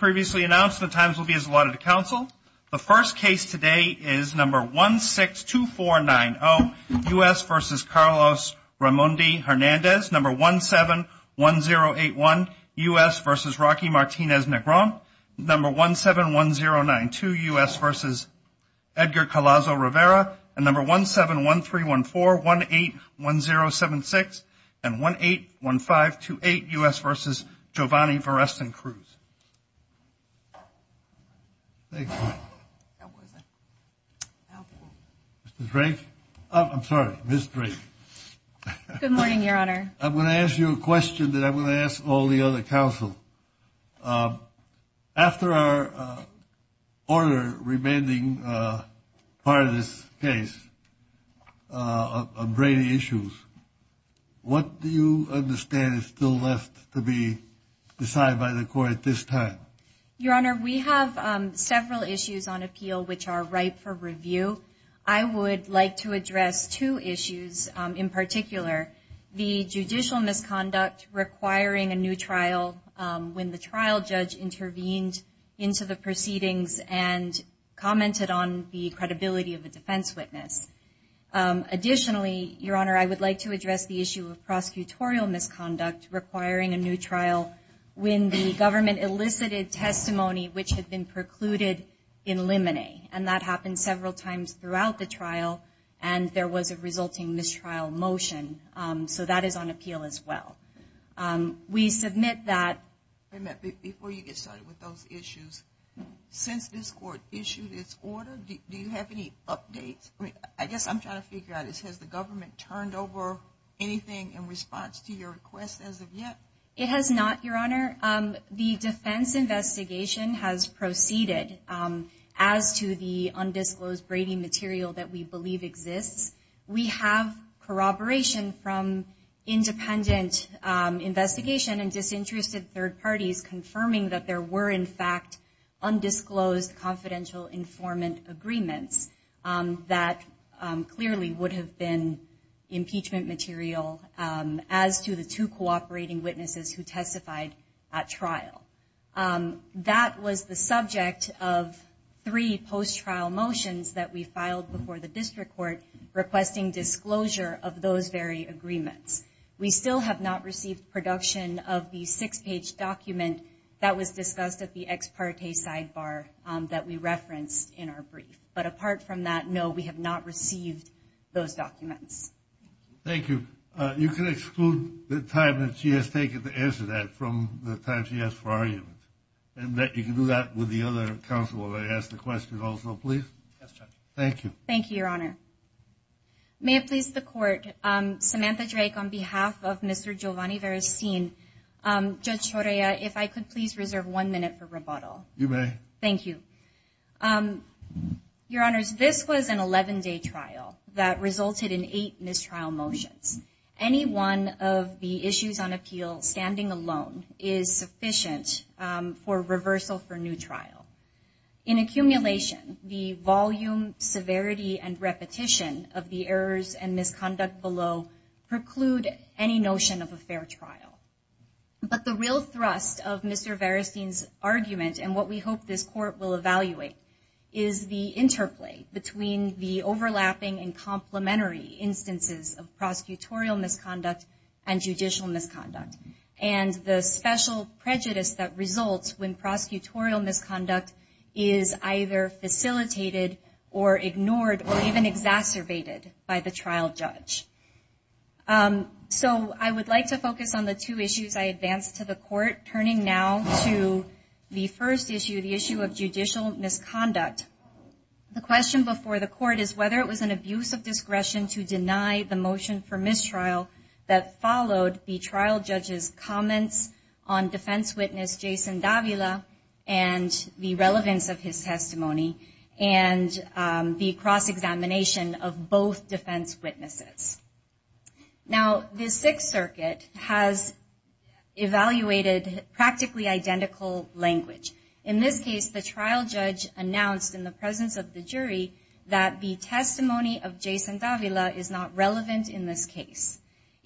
171092 U.S. v. Edgar Calazo-Rivera, 171314181076, 181528 U.S. v. Giovanni Varesen-Cruz. Thank you. Mr. Drake? I'm sorry, Ms. Drake. Good morning, Your Honor. I'm going to ask you a question that I'm going to ask all the other counsel. After our order remaining part of this case of Brady issues, what do you understand is still left to be decided by the court at this time? Your Honor, we have several issues on appeal which are ripe for review. I would like to address two issues in particular, the judicial misconduct requiring a new trial when the trial judge intervened into the proceedings and commented on the credibility of the defense witness. Additionally, Your Honor, I would like to address the issue of prosecutorial misconduct requiring a new trial when the government elicited testimony which had been precluded in limine. And that happened several times throughout the trial and there was a resulting mistrial motion. So that is on appeal as well. Before you get started with those issues, since this court issued its order, do you have any updates? I guess I'm trying to figure out, has the government turned over anything in response to your request as of yet? It has not, Your Honor. The defense investigation has proceeded as to the undisclosed Brady material that we believe exists. We have corroboration from independent investigation and disinterested third parties confirming that there were in fact undisclosed confidential informant agreements that clearly would have been impeachment material as to the two cooperating witnesses who testified at trial. That was the subject of three post-trial motions that we filed before the district court requesting disclosure of those very agreements. We still have not received production of the six-page document that was discussed at the ex parte sidebar that we referenced in our brief. But apart from that, no, we have not received those documents. Thank you. You can exclude the time that she has taken to answer that from the time she has for arguing. And you can do that with the other counsel that asked the question also, please. Yes, Judge. Thank you. Thank you, Your Honor. May it please the court, Samantha Drake, on behalf of Mr. Giovanni Verracine, Judge Torea, if I could please reserve one minute for rebuttal. You may. Thank you. Your Honor, this was an 11-day trial that resulted in eight mistrial motions. Any one of the issues on appeal standing alone is sufficient for reversal for new trials. In accumulation, the volume, severity, and repetition of the errors and misconduct below preclude any notion of a fair trial. But the real thrust of Mr. Verracine's argument and what we hope this court will evaluate is the interplay between the overlapping and complementary instances of prosecutorial misconduct and judicial misconduct. And the special prejudice that results when prosecutorial misconduct is either facilitated or ignored or even exacerbated by the trial judge. So I would like to focus on the two issues I advanced to the court, turning now to the first issue, the issue of judicial misconduct. The question before the court is whether it was an abuse of discretion to deny the motion for mistrial that followed the trial judge's comments on defense witness Jason Davila and the relevance of his testimony and the cross-examination of both defense witnesses. Now, the Sixth Circuit has evaluated practically identical language. In this case, the trial judge announced in the presence of the jury that the testimony of Jason Davila is not relevant in this case.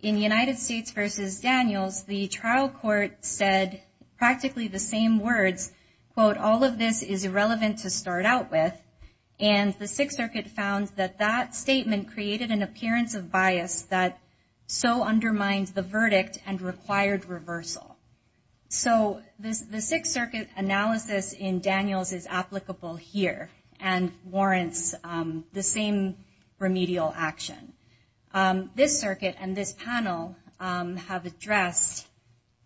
In United States v. Daniels, the trial court said practically the same words, quote, all of this is irrelevant to start out with. And the Sixth Circuit found that that statement created an appearance of bias that so undermines the verdict and required reversal. So the Sixth Circuit's analysis in Daniels is applicable here and warrants the same remedial action. This circuit and this panel have addressed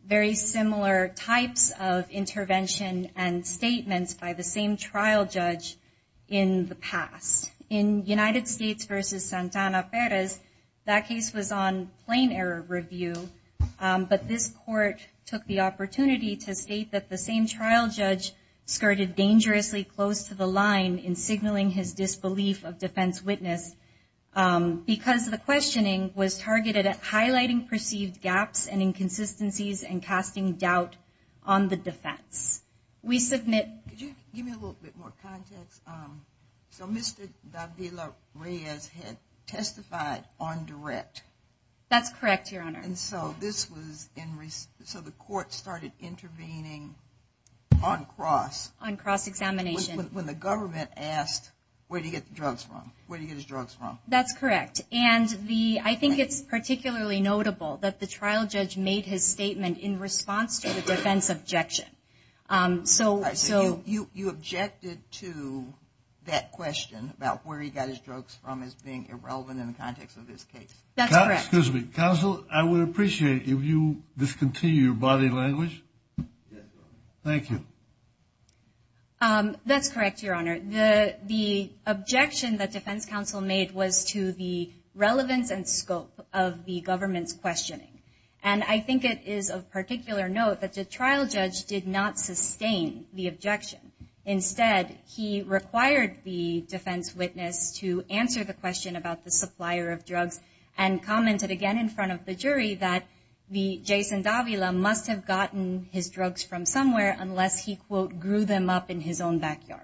very similar types of intervention and statements by the same trial judge in the past. In United States v. Santana Perez, that case was on plain error review, but this court took the opportunity to state that the same trial judge skirted dangerously close to the line in signaling his disbelief of defense witness because the questioning was targeted at highlighting perceived gaps and inconsistencies and casting doubt on the defense. We submit- Could you give me a little bit more context? So Mr. Davila-Reyes had testified on direct. That's correct, Your Honor. And so this was in- so the court started intervening on cross- On cross-examination. When the government asked where did he get the drugs from, where did he get his drugs from. That's correct. And the- I think it's particularly notable that the trial judge made his statement in response to the defense objection. So- You objected to that question about where he got his drugs from as being irrelevant in the context of this case. That's correct. Excuse me. Counsel, I would appreciate if you discontinue your body language. Thank you. That's correct, Your Honor. The objection that defense counsel made was to the relevance and scope of the government's questioning. And I think it is of particular note that the trial judge did not sustain the objection. Instead, he required the defense witness to answer the question about the supplier of drugs and commented again in front of the jury that the- Jason Davila must have gotten his drugs from somewhere unless he, quote, grew them up in his own backyard.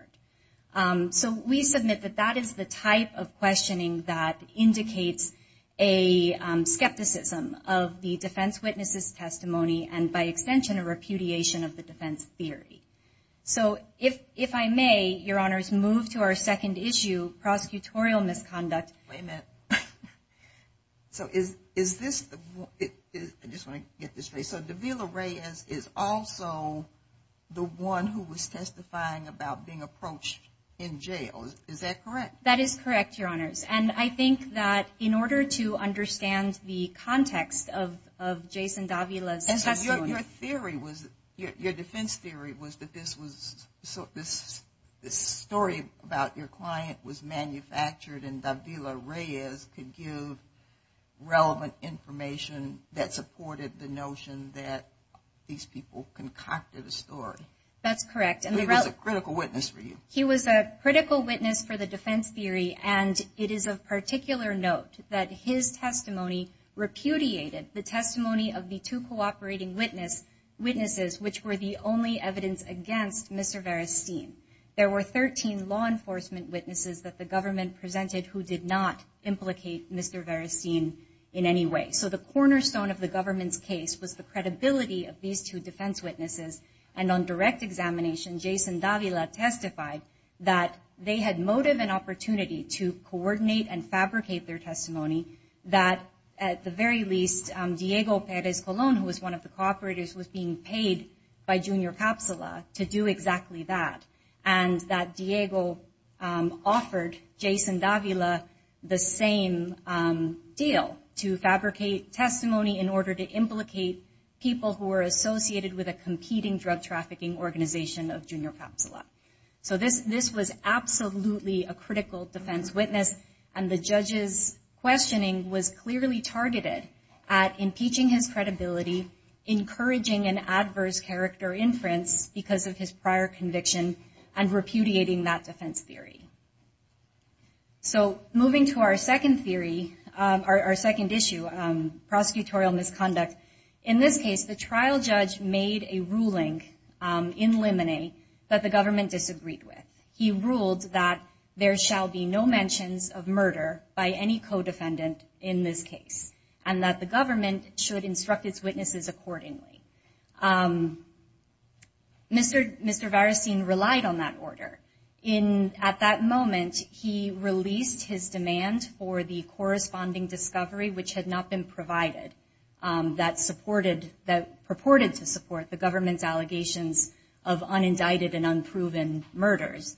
So we submit that that is the type of questioning that indicates a skepticism of the defense witness's testimony and, by extension, a repudiation of the defense theory. So if I may, Your Honors, move to our second issue, prosecutorial misconduct. Wait a minute. So is this- I just want to get this straight. So Davila Reyes is also the one who was testifying about being approached in jail. Is that correct? That is correct, Your Honors. And I think that in order to understand the context of Jason Davila's testimony- Your defense theory was that this story about your client was manufactured and Davila Reyes could give relevant information that supported the notion that these people concocted a story. That's correct. He was a critical witness for you. And it is of particular note that his testimony repudiated the testimony of the two cooperating witnesses, which were the only evidence against Mr. Veristein. There were 13 law enforcement witnesses that the government presented who did not implicate Mr. Veristein in any way. So the cornerstone of the government's case was the credibility of these two defense witnesses, and on direct examination, Jason Davila testified that they had motive and opportunity to coordinate and fabricate their testimony, that at the very least, Diego Perez Colon, who was one of the cooperators, was being paid by Junior Capsula to do exactly that, and that Diego offered Jason Davila the same deal, to fabricate testimony in order to implicate people who were associated with a competing drug trafficking organization of Junior Capsula. So this was absolutely a critical defense witness, and the judge's questioning was clearly targeted at impeaching his credibility, encouraging an adverse character inference because of his prior conviction, and repudiating that defense theory. So moving to our second theory, our second issue, prosecutorial misconduct, in this case, the trial judge made a ruling in limine that the government disagreed with. He ruled that there shall be no mentions of murder by any co-defendant in this case, and that the government should instruct its witnesses accordingly. Mr. Varusteen relied on that order. At that moment, he released his demand for the corresponding discovery, which had not been provided, that purported to support the government's allegations of unindicted and unproven murders.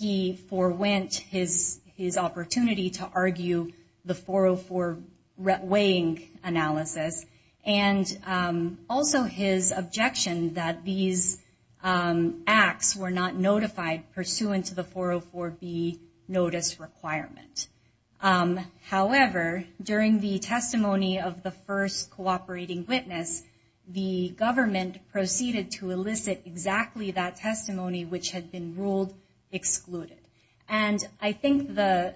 He forwent his opportunity to argue the 404 weighing analysis, and also his objection that these acts were not notified pursuant to the 404B notice requirement. However, during the testimony of the first cooperating witness, the government proceeded to elicit exactly that testimony, which had been ruled excluded. And I think the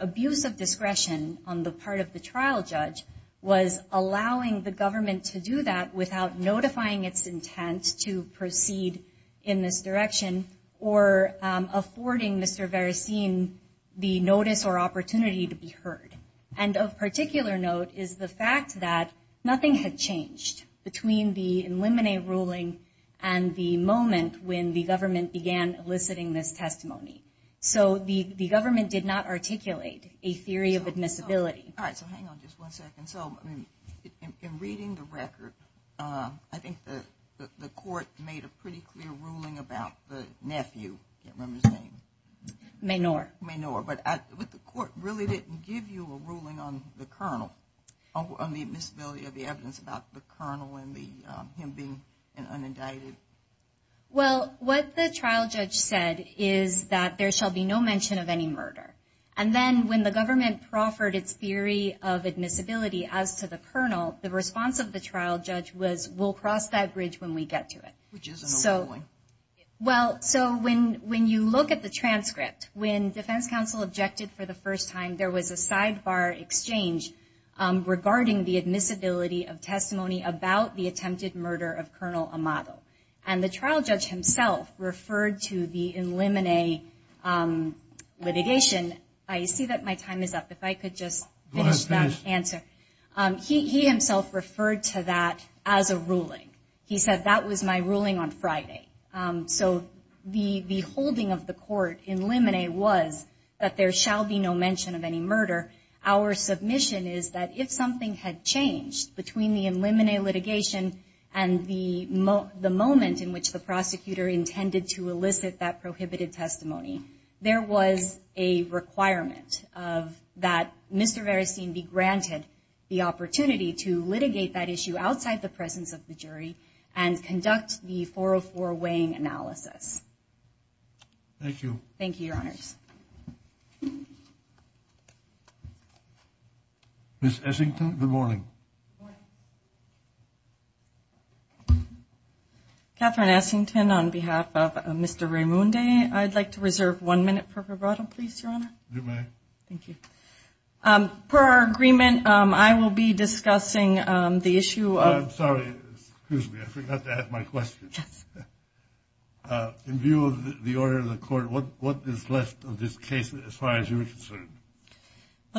abuse of discretion on the part of the trial judge was allowing the government to do that without notifying its intent to proceed in this direction, or affording Mr. Varusteen the notice or opportunity to be heard. And of particular note is the fact that nothing had changed between the limine ruling and the moment when the government began eliciting this testimony. So the government did not articulate a theory of admissibility. All right, so hang on just one second. So in reading the record, I think the court made a pretty clear ruling about the nephew. I can't remember his name. Maynard. Maynard. But the court really didn't give you a ruling on the colonel, on the admissibility of the evidence about the colonel and him being an unindicted? Well, what the trial judge said is that there shall be no mention of any murder. And then when the government proffered its theory of admissibility as to the colonel, the response of the trial judge was, we'll cross that bridge when we get to it. Which is an overruling. Well, so when you look at the transcript, when defense counsel objected for the first time, there was a sidebar exchange regarding the admissibility of testimony about the attempted murder of Colonel Amado. And the trial judge himself referred to the limine litigation. I see that my time is up. If I could just finish that answer. He himself referred to that as a ruling. He said, that was my ruling on Friday. So the holding of the court in limine was that there shall be no mention of any murder. Our submission is that if something had changed between the limine litigation and the moment in which the prosecutor intended to elicit that prohibited testimony, there was a requirement of that Mr. Verasine be granted the opportunity to litigate that issue outside the presence of the jury and conduct the 404 weighing analysis. Thank you. Thank you, your honors. Ms. Essington, good morning. Good morning. Catherine Essington on behalf of Mr. Raimondi. I'd like to reserve one minute for rebuttal, please, your honor. You may. Thank you. Per our agreement, I will be discussing the issue of – I'm sorry. Excuse me. I forgot to ask my question. In view of the order of the court, what is left of this case as far as you're concerned?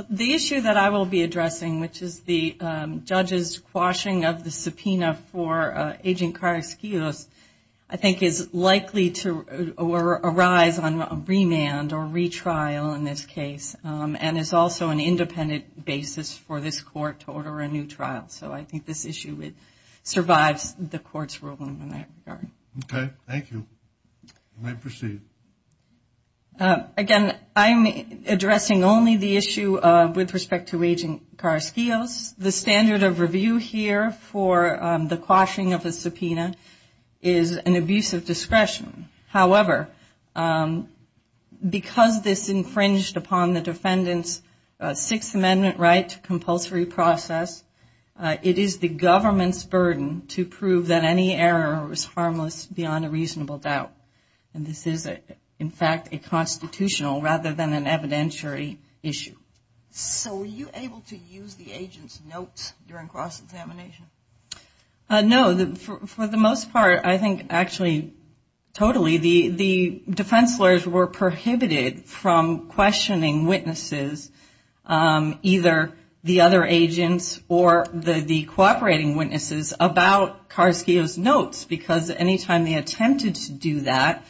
The issue that I will be addressing, which is the judge's quashing of the subpoena for Agent Carr-Escuza, I think is likely to arise on remand or retrial in this case and is also an independent basis for this court to order a new trial. So I think this issue would survive the court's ruling. Okay. Thank you. You may proceed. Again, I'm addressing only the issue with respect to Agent Carr-Escuza. The standard of review here for the quashing of the subpoena is an abuse of discretion. However, because this infringed upon the defendant's Sixth Amendment right to compulsory process, it is the government's burden to prove that any error was harmless beyond a reasonable doubt. And this is, in fact, a constitutional rather than an evidentiary issue. So were you able to use the agent's notes during cross-examination? No. For the most part, I think, actually, totally, the defense lawyers were prohibited from questioning witnesses, either the other agents or the cooperating witnesses, about Carr-Escuza's notes because any time they attempted to do that,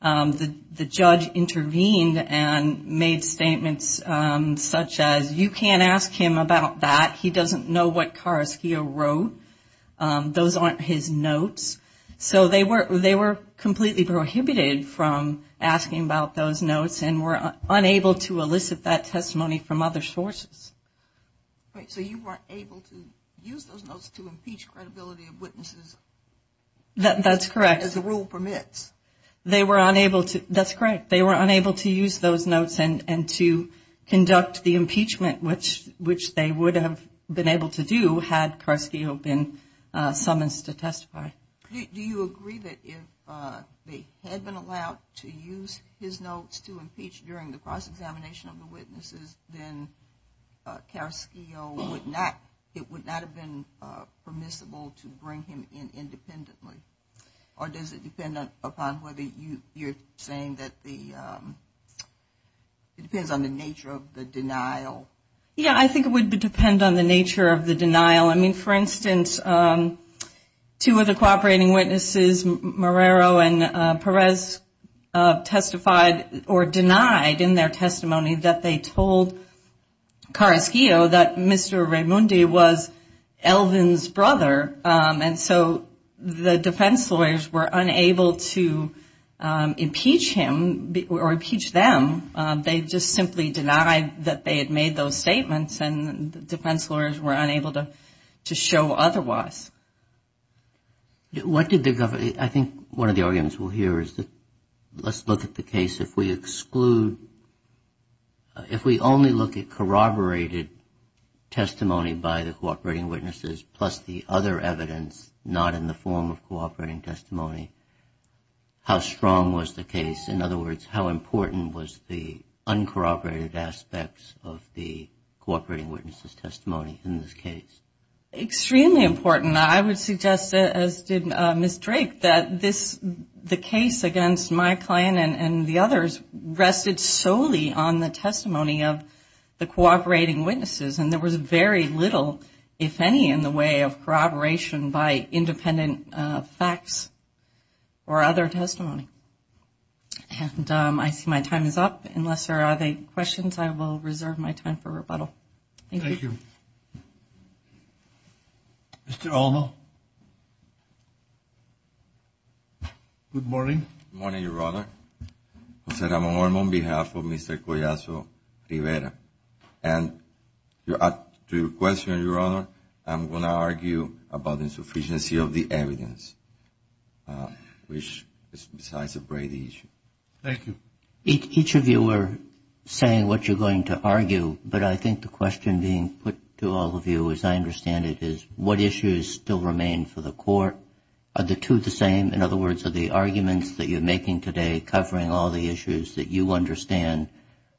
the judge intervened and made statements such as, you can't ask him about that. He doesn't know what cards he wrote. Those aren't his notes. So they were completely prohibited from asking about those notes and were unable to elicit that testimony from other sources. So you weren't able to use those notes to impeach credibility of witnesses? That's correct. As the rule permits. That's correct. They were unable to use those notes and to conduct the impeachment, which they would have been able to do, had Carr-Escuza been summonsed to testify. Do you agree that if they had been allowed to use his notes to impeach during the cross-examination of the witnesses, then Carr-Escuza would not have been permissible to bring him in independently? Or does it depend upon whether you're saying that it depends on the nature of the denial? Yeah, I think it would depend on the nature of the denial. I mean, for instance, two of the cooperating witnesses, Marrero and Perez, testified or denied in their testimony that they told Carr-Escuza that Mr. Raimondi was Eldon's brother. And so the defense lawyers were unable to impeach him or impeach them. They just simply denied that they had made those statements, and the defense lawyers were unable to show otherwise. I think one of the arguments we'll hear is that let's look at the case. If we exclude, if we only look at corroborated testimony by the cooperating witnesses, plus the other evidence not in the form of cooperating testimony, how strong was the case? In other words, how important was the uncorroborated aspects of the cooperating witnesses' testimony in this case? Extremely important. I would suggest, as did Ms. Drake, that the case against my client and the others rested solely on the testimony of the cooperating witnesses, and there was very little, if any, in the way of corroboration by independent facts or other testimony. And I see my time is up. Unless there are any questions, I will reserve my time for rebuttal. Thank you. Mr. Olmo. Good morning. Good morning, Your Honor. Jose Ramon Olmo on behalf of Mr. Collazo Rivera. And to your question, Your Honor, I'm going to argue about insufficiency of the evidence, which is besides a great issue. Thank you. Each of you are saying what you're going to argue, but I think the question being put to all of you, as I understand it, is what issues still remain for the court? Are the two the same? In other words, are the arguments that you're making today covering all the issues that you understand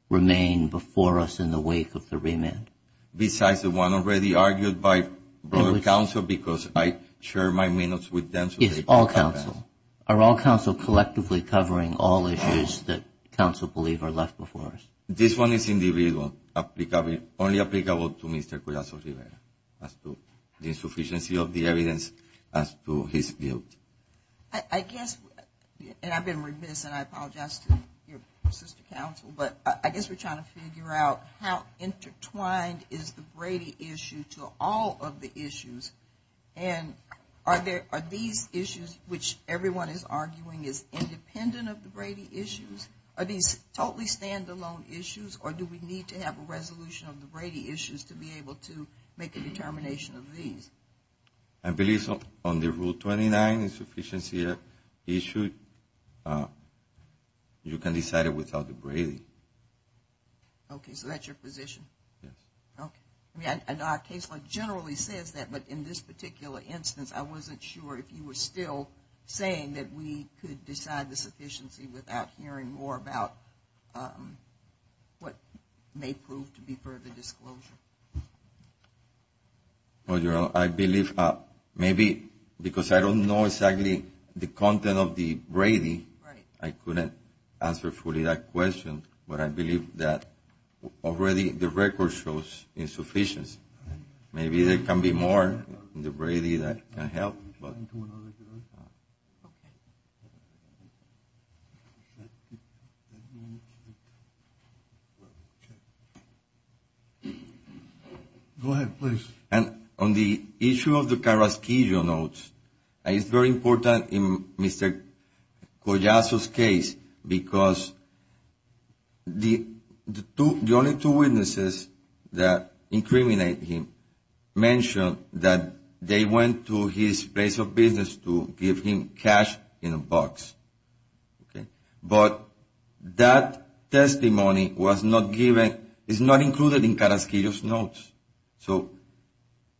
remain before us in the wake of the remand? Besides the one already argued by the counsel, because I share my minutes with them. Yes, all counsel. Are all counsel collectively covering all issues that counsel believe are left before us? This one is individual, only applicable to Mr. Collazo Rivera as to the insufficiency of the evidence as to his guilt. I guess, and I've been remiss and I apologize to your sister counsel, but I guess we're trying to figure out how intertwined is the Brady issue to all of the issues. And are these issues, which everyone is arguing is independent of the Brady issues, are these totally stand-alone issues or do we need to have a resolution of the Brady issues to be able to make a determination of these? I believe on the Rule 29, insufficiency issue, you can decide it without the Brady. Okay, so that's your position? Yes. I know our case law generally says that, but in this particular instance, I wasn't sure if you were still saying that we could decide the sufficiency without hearing more about what may prove to be further disclosure. Well, you know, I believe maybe because I don't know exactly the content of the Brady, I couldn't answer fully that question, but I believe that already the record shows insufficiency. Maybe there can be more in the Brady that can help. Go ahead, please. On the issue of the Carrasquillo notes, it's very important in Mr. Collazo's case because the only two witnesses that incriminate him mention that they went to his place of business to give him cash in a box. But that testimony is not included in Carrasquillo's notes. So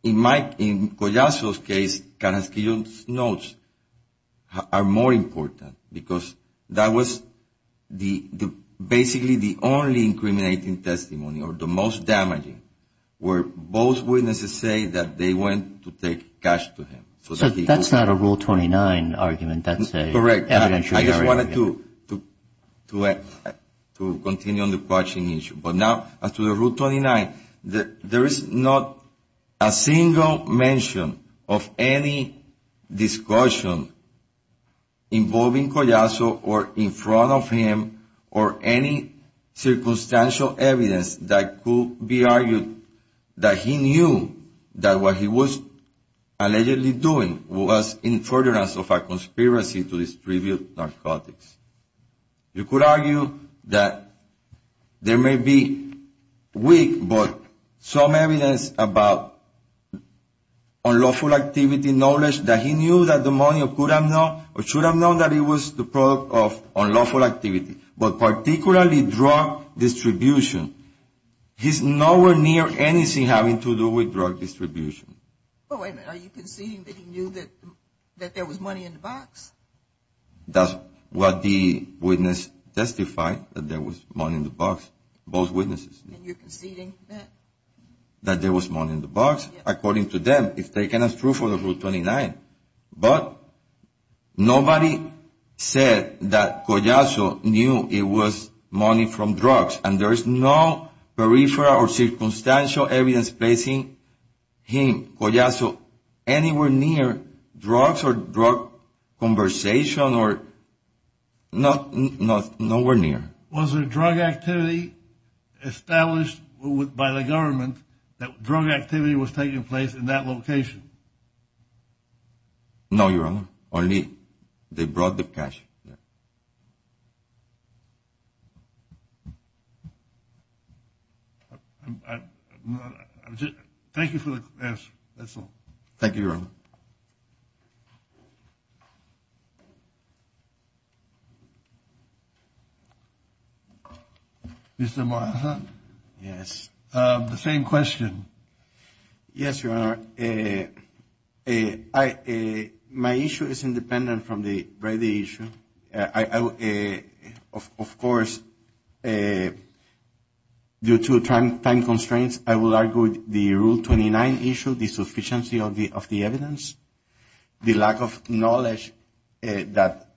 in Collazo's case, Carrasquillo's notes are more important because that was basically the only incriminating testimony or the most damaging, where both witnesses say that they went to take cash to him. So that's not a Rule 29 argument. Correct. I just wanted to continue on the caution issue. But now to the Rule 29. There is not a single mention of any discussion involving Collazo or in front of him or any circumstantial evidence that could be argued that he knew that what he was allegedly doing was in furtherance of a conspiracy to distribute narcotics. You could argue that there may be weak but some evidence about unlawful activity, knowledge that he knew that the money could have known or should have known that it was the product of unlawful activity. But particularly drug distribution. There's nowhere near anything having to do with drug distribution. Are you conceding that he knew that there was money in the box? That's what the witness testified, that there was money in the box, both witnesses. And you're conceding that? That there was money in the box. According to them, it's taken as proof of the Rule 29. But nobody said that Collazo knew it was money from drugs. And there is no peripheral or circumstantial evidence placing him, Collazo, anywhere near drugs or drug conversation or nowhere near. Was there drug activity established by the government that drug activity was taking place in that location? No, Your Honor. Only they brought the press. Thank you for the answer, that's all. Thank you, Your Honor. Mr. Moraza? Yes. The same question. Yes, Your Honor. My issue is independent from the Brady issue. Of course, due to time constraints, I would argue the Rule 29 issue, the sufficiency of the evidence, the lack of knowledge that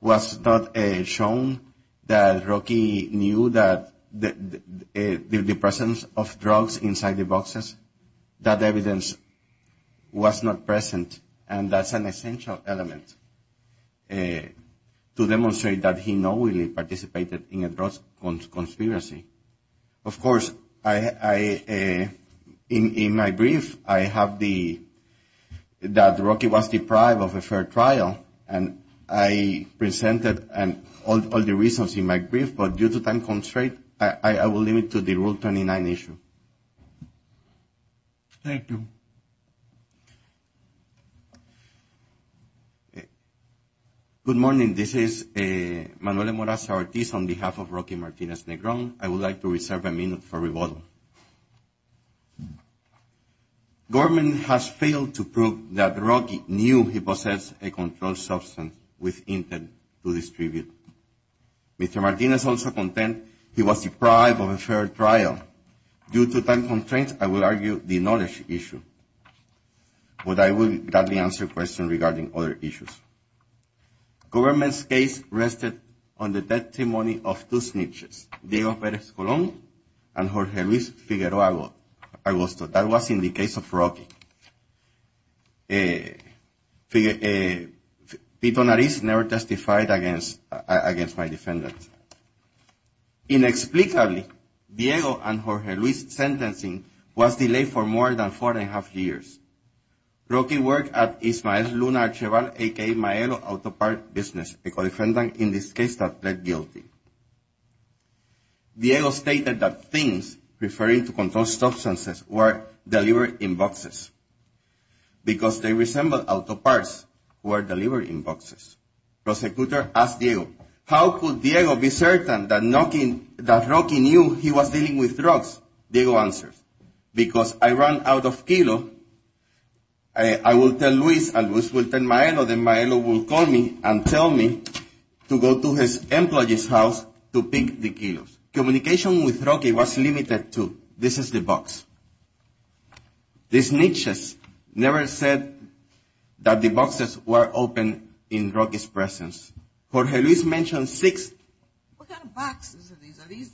was not shown, that Rocky knew that the presence of drugs inside the boxes, that evidence was not present. And that's an essential element to demonstrate that he knowingly participated in a drug conspiracy. Of course, in my brief, I have that Rocky was deprived of a fair trial. And I presented all the reasons in my brief. But due to time constraints, I will limit it to the Rule 29 issue. Thank you. Good morning. Good morning. This is Manuel Moraza Ortiz on behalf of Rocky Martinez-Negron. I would like to reserve a minute for rebuttal. Government has failed to prove that Rocky knew he possessed a controlled substance with intent to distribute. Mr. Martinez also contends he was deprived of a fair trial. Due to time constraints, I will argue the knowledge issue. But I will gladly answer questions regarding other issues. Government's case rested on the testimony of two snitches, Diego Perez-Colón and Jorge Luis Figueroa Agosto. That was in the case of Rocky. Figueroa never testified against my defendant. Inexplicably, Diego and Jorge Luis' sentencing was delayed for more than four and a half years. Rocky worked at Ismael Luna Archival, a.k.a. Maero Auto Parts Business, a co-defendant in this case that pled guilty. Diego stated that things referring to controlled substances were delivered in boxes because they resembled auto parts were delivered in boxes. Prosecutor asked Diego, how could Diego be certain that Rocky knew he was dealing with drugs? Diego answered, because I ran out of kilos. I would tell Luis and Luis would tell Maero, then Maero would call me and tell me to go to his employee's house to pick the kilos. Communication with Rocky was limited to, this is the box. The snitches never said that the boxes were open in Rocky's presence. Jorge Luis mentioned six. What kind of boxes are these? Are these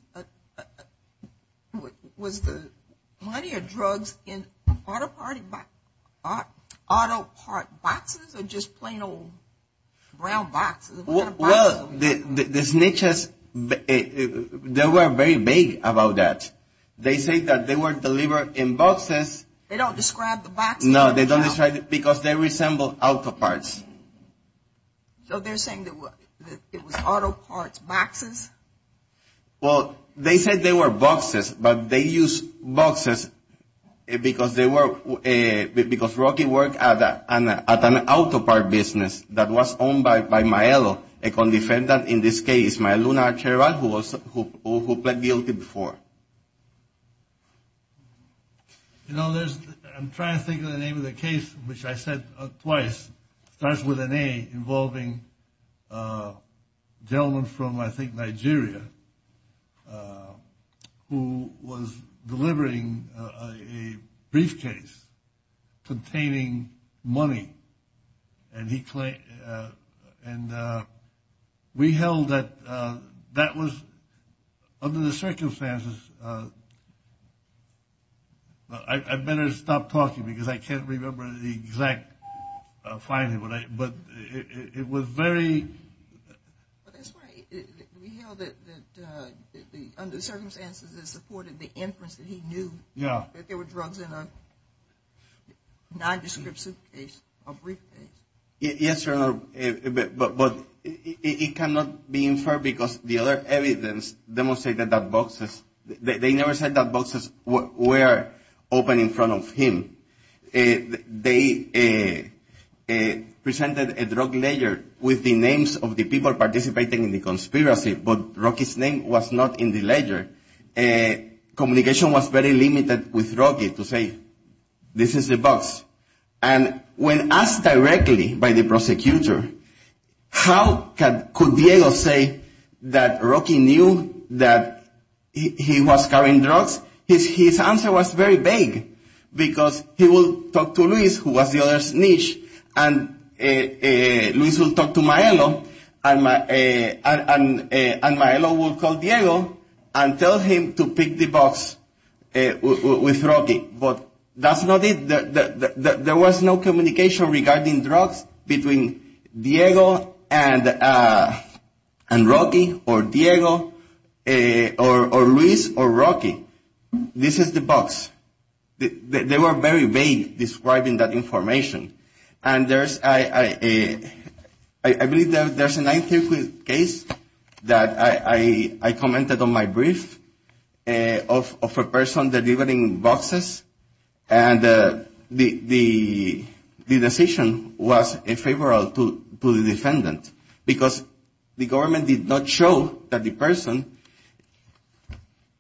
money or drugs in auto part boxes or just plain old round boxes? Well, the snitches, they were very vague about that. They say that they were delivered in boxes. They don't describe the boxes? No, they don't describe it because they resemble auto parts. So they're saying it was auto parts boxes? Well, they said they were boxes, but they used boxes because Rocky worked at an auto part business that was owned by Maero, and Maero was a condefendant in this case. Maero was the one who pled guilty before. I'm trying to think of the name of the case, which I said twice. It starts with an A, involving a gentleman from, I think, Nigeria, who was delivering a briefcase containing money. And we held that that was under the circumstances. I'd better stop talking because I can't remember the exact finding, but it was very... We held that under the circumstances it supported the inference that he knew that there were drugs in a nondescript suitcase, a briefcase. Yes, but it cannot be inferred because the other evidence demonstrated that boxes... They never said that boxes were open in front of him. They presented a drug ledger with the names of the people participating in the conspiracy, but Rocky's name was not in the ledger. Communication was very limited with Rocky to say, this is the box. And when asked directly by the prosecutor, how could Diego say that Rocky knew that he was carrying drugs? His answer was very vague because he would talk to Luis, who was the other snitch, and Luis would talk to Maelo, and Maelo would call Diego and tell him to pick the box with Rocky. But that's not it. There was no communication regarding drugs between Diego and Rocky, or Luis or Rocky. This is the box. They were very vague describing that information. I believe there's a case that I commented on my brief of a person delivering boxes, and the decision was unfavorable to the defendant because the government did not show that the person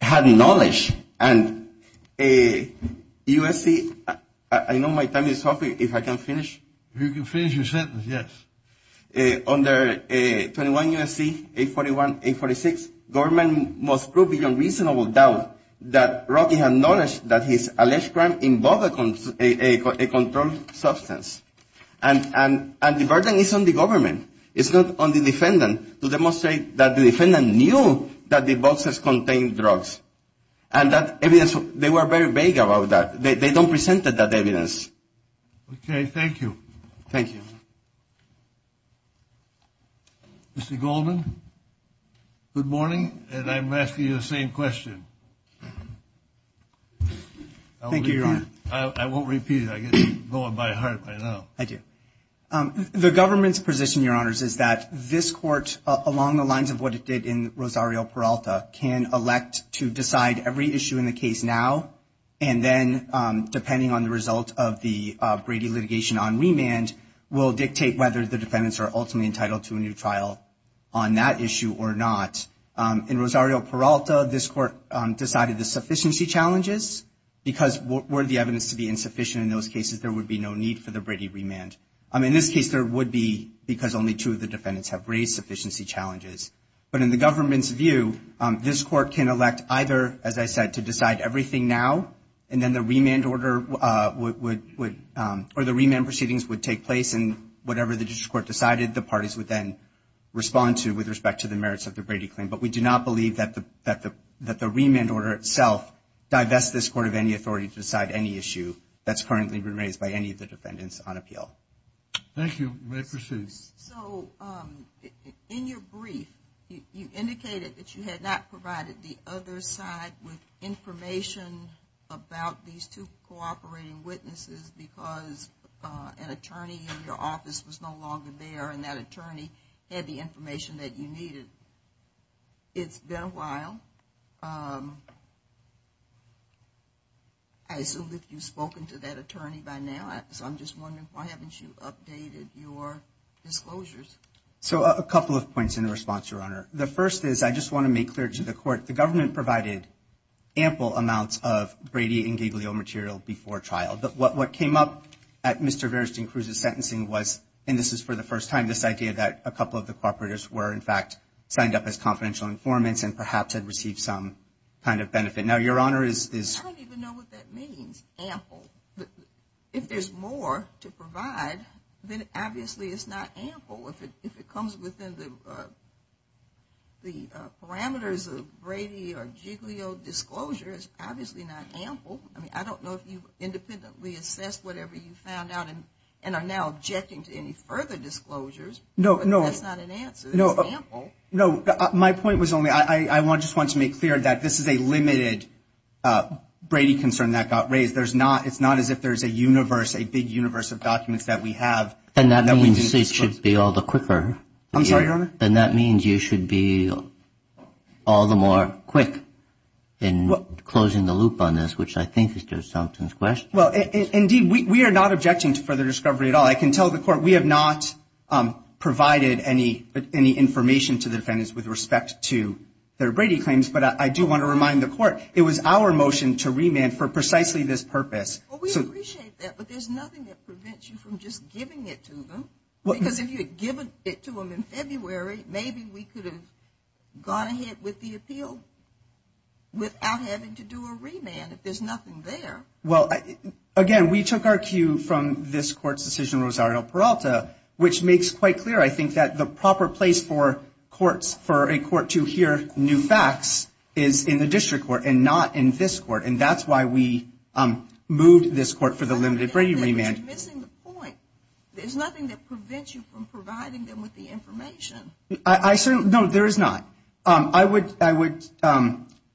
had knowledge. And USC... I know my time is up. If I can finish... You can finish your sentence, yes. Under 21 USC 841-846, the government must prove beyond reasonable doubt that Rocky had knowledge that his alleged crime involved a controlled substance. And the burden is on the government. It's not on the defendant. They must say that the defendant knew that the boxes contained drugs, and that evidence... They were very vague about that. They don't present that evidence. Okay, thank you. Thank you. Mr. Goldman, good morning, and I'm asking you the same question. Thank you, Your Honor. I won't repeat it. I get you going by heart by now. I do. The government's position, Your Honors, is that this court, along the lines of what it did in Rosario Peralta, can elect to decide every issue in the case now, and then, depending on the result of the Brady litigation on remand, will dictate whether the defendants are ultimately entitled to a new trial on that issue or not. In Rosario Peralta, this court decided the sufficiency challenges, because were the evidence to be insufficient in those cases, there would be no need for the Brady remand. In this case, there would be, because only two of the defendants have raised sufficiency challenges. But in the government's view, this court can elect either, as I said, to decide everything now, and then the remand proceedings would take place, and whatever the district court decided, the parties would then respond to with respect to the merits of the Brady claim. But we do not believe that the remand order itself divests this court of any authority to decide any issue that's currently been raised by any of the defendants on appeal. Thank you. You may proceed. So, in your brief, you indicated that you had not provided the other side with information about these two cooperating witnesses, because an attorney in your office was no longer there, and that attorney had the information that you needed. It's been a while. I assume that you've spoken to that attorney by now, so I'm just wondering, why haven't you updated your disclosures? So, a couple of points in the response, Your Honor. The first is, I just want to make clear to the court, the government provided ample amounts of Brady and Gabriel material before trial. But what came up at Mr. Verstein Cruz's sentencing was, and this is for the first time, this idea that a couple of the cooperators were, in fact, signed up as confidential informants and perhaps had received some kind of benefit. Now, Your Honor, is – I don't even know what that means, ample. If there's more to provide, then obviously it's not ample. If it comes within the parameters of Brady or Giglio disclosures, obviously not ample. I mean, I don't know if you independently assessed whatever you found out and are now objecting to any further disclosures. No, no. But that's not an answer. It's ample. No, my point was only, I just want to make clear that this is a limited Brady concern that got raised. It's not as if there's a universe, a big universe of documents that we have. And that means it should be all the quicker. I'm sorry, Your Honor? And that means you should be all the more quick in closing the loop on this, which I think is Judge Thompson's question. Well, indeed, we are not objecting to further discovery at all. I can tell the Court we have not provided any information to the defendants with respect to their Brady claims, but I do want to remind the Court it was our motion to remand for precisely this purpose. Well, we appreciate that, but there's nothing that prevents you from just giving it to them. Because if you had given it to them in February, maybe we could have gone ahead with the appeal without having to do a remand. There's nothing there. Well, again, we took our cue from this Court's decision, Rosario Peralta, which makes quite clear, I think, that the proper place for a court to hear new facts is in the district court and not in this court. And that's why we moved this court for the limited Brady remand. You're missing the point. There's nothing that prevents you from providing them with the information. No, there is not. I would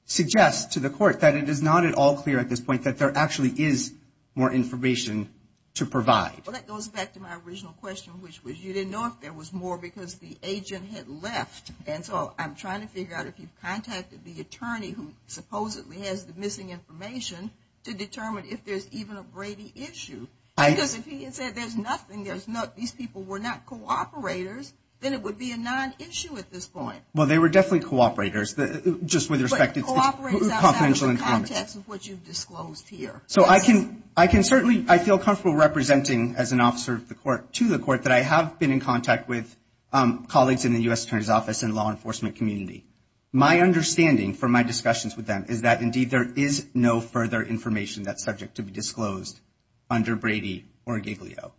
suggest to the Court that it is not at all clear at this point that there actually is more information to provide. Well, that goes back to my original question, which was you didn't know if there was more because the agent had left. And so I'm trying to figure out if you've contacted the attorney who supposedly has the missing information to determine if there's even a Brady issue. Because if he had said there's nothing, these people were not cooperators, then it would be a non-issue at this point. Well, they were definitely cooperators, just with respect to confidential information. But cooperators are not in the context of what you've disclosed here. So I can certainly, I feel comfortable representing as an officer to the Court that I have been in contact with colleagues in the U.S. Attorney's Office and law enforcement community. My understanding from my discussions with them is that, indeed, there is no further information that's subject to be disclosed under Brady or Gabriel.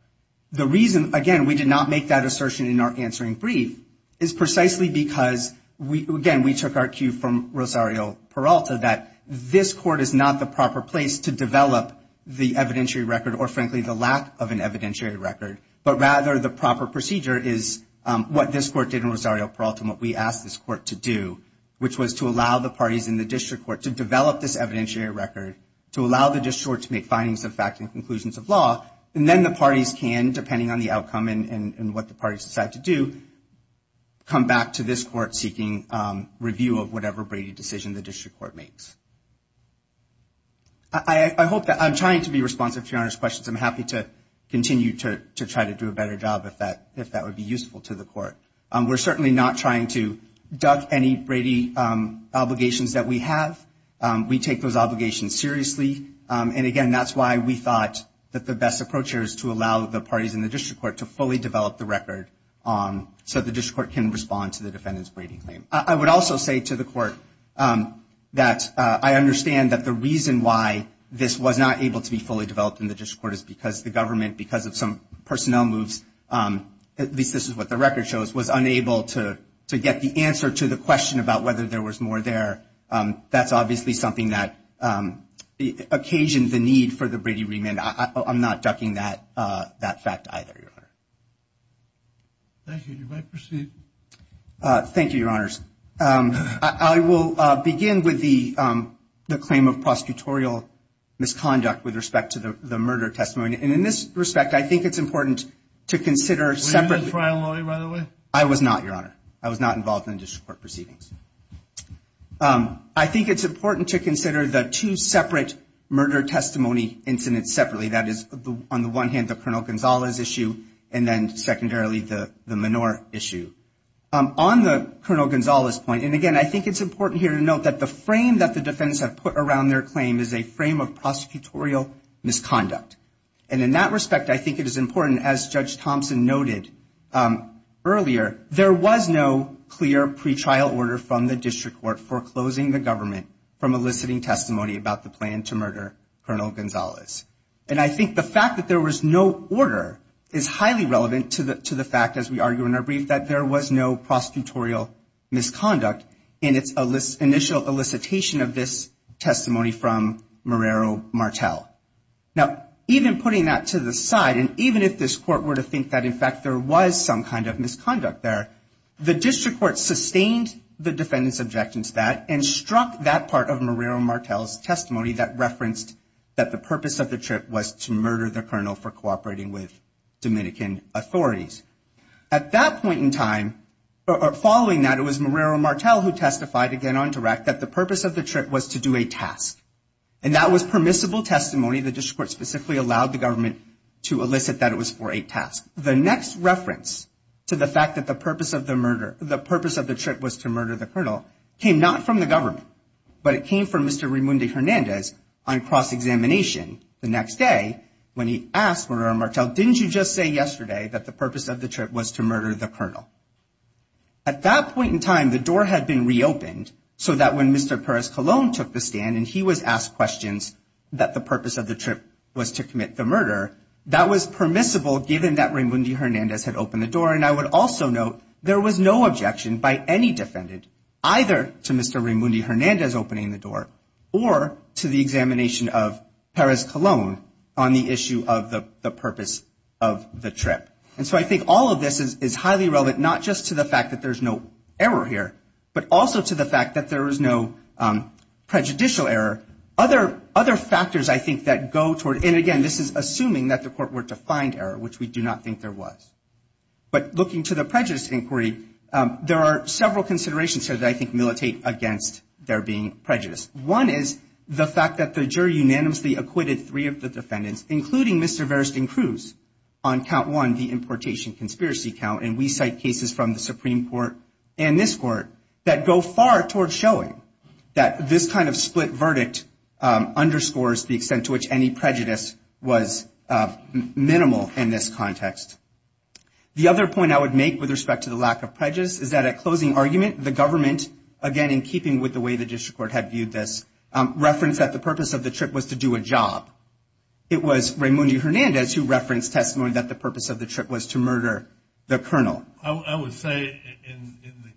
The reason, again, we did not make that assertion in our answering brief is precisely because, again, we took our cue from Rosario Peralta that this Court is not the proper place to develop the evidentiary record or, frankly, the lack of an evidentiary record. But, rather, the proper procedure is what this Court did in Rosario Peralta and what we asked this Court to do, which was to allow the parties in the District Court to develop this evidentiary record, to allow the District Court to make findings, the facts, and conclusions of law. And then the parties can, depending on the outcome and what the parties decide to do, come back to this Court seeking review of whatever Brady decision the District Court makes. I hope that I'm trying to be responsive to your questions. I'm happy to continue to try to do a better job if that would be useful to the Court. We're certainly not trying to dodge any Brady obligations that we have. We take those obligations seriously. And, again, that's why we thought that the best approach here is to allow the parties in the District Court to fully develop the record so the District Court can respond to the defendant's Brady claim. I would also say to the Court that I understand that the reason why this was not able to be fully developed in the District Court is because the government, because of some personnel moves, at least this is what the record shows, was unable to get the answer to the question about whether there was more there. That's obviously something that occasioned the need for the Brady remand. I'm not ducking that fact either, Your Honor. Thank you. You may proceed. Thank you, Your Honors. I will begin with the claim of prosecutorial misconduct with respect to the murder testimony. And in this respect, I think it's important to consider separate- Were you a trial lawyer, by the way? I was not, Your Honor. I was not involved in the District Court proceedings. I think it's important to consider the two separate murder testimony incidents separately. That is, on the one hand, the Colonel Gonzalez issue, and then secondarily, the Menorah issue. On the Colonel Gonzalez point, and again, I think it's important here to note that the frame that the defendants have put around their claim is a frame of prosecutorial misconduct. And in that respect, I think it is important, as Judge Thompson noted earlier, there was no clear pretrial order from the District Court foreclosing the government from eliciting testimony about the plan to murder Colonel Gonzalez. And I think the fact that there was no order is highly relevant to the fact, as we argue in our brief, that there was no prosecutorial misconduct in its initial elicitation of this testimony from Marrero Martel. Now, even putting that to the side, and even if this Court were to think that, in fact, there was some kind of misconduct there, the District Court sustained the defendants' objections to that and struck that part of Marrero Martel's testimony that referenced that the purpose of the trip was to murder the Colonel for cooperating with Dominican authorities. At that point in time, or following that, it was Marrero Martel who testified, again, on direct, that the purpose of the trip was to do a task. And that was permissible testimony. The District Court specifically allowed the government to elicit that it was for a task. The next reference to the fact that the purpose of the trip was to murder the Colonel came not from the government, but it came from Mr. Raymundo Hernandez on cross-examination the next day when he asked Marrero Martel, didn't you just say yesterday that the purpose of the trip was to murder the Colonel? At that point in time, the door had been reopened so that when Mr. Perez-Colón took the stand and he was asked questions that the purpose of the trip was to commit the murder, that was permissible given that Raymundo Hernandez had opened the door. And I would also note there was no objection by any defendant either to Mr. Raymundo Hernandez opening the door or to the examination of Perez-Colón on the issue of the purpose of the trip. And so I think all of this is highly relevant, not just to the fact that there's no error here, but also to the fact that there is no prejudicial error. Other factors I think that go toward, and again, this is assuming that the court were to find error, which we do not think there was. But looking to the prejudice inquiry, there are several considerations here that I think militate against there being prejudice. One is the fact that the jury unanimously acquitted three of the defendants, including Mr. Veresting Cruz on count one, the importation conspiracy count, and we cite cases from the Supreme Court and this court that go far toward showing that this kind of split verdict underscores the extent to which any prejudice was minimal in this context. The other point I would make with respect to the lack of prejudice is that at closing argument, the government, again, in keeping with the way the district court had viewed this, referenced that the purpose of the trip was to do a job. It was Raymundo Hernandez who referenced testimony that the purpose of the trip was to murder the colonel. I would say in the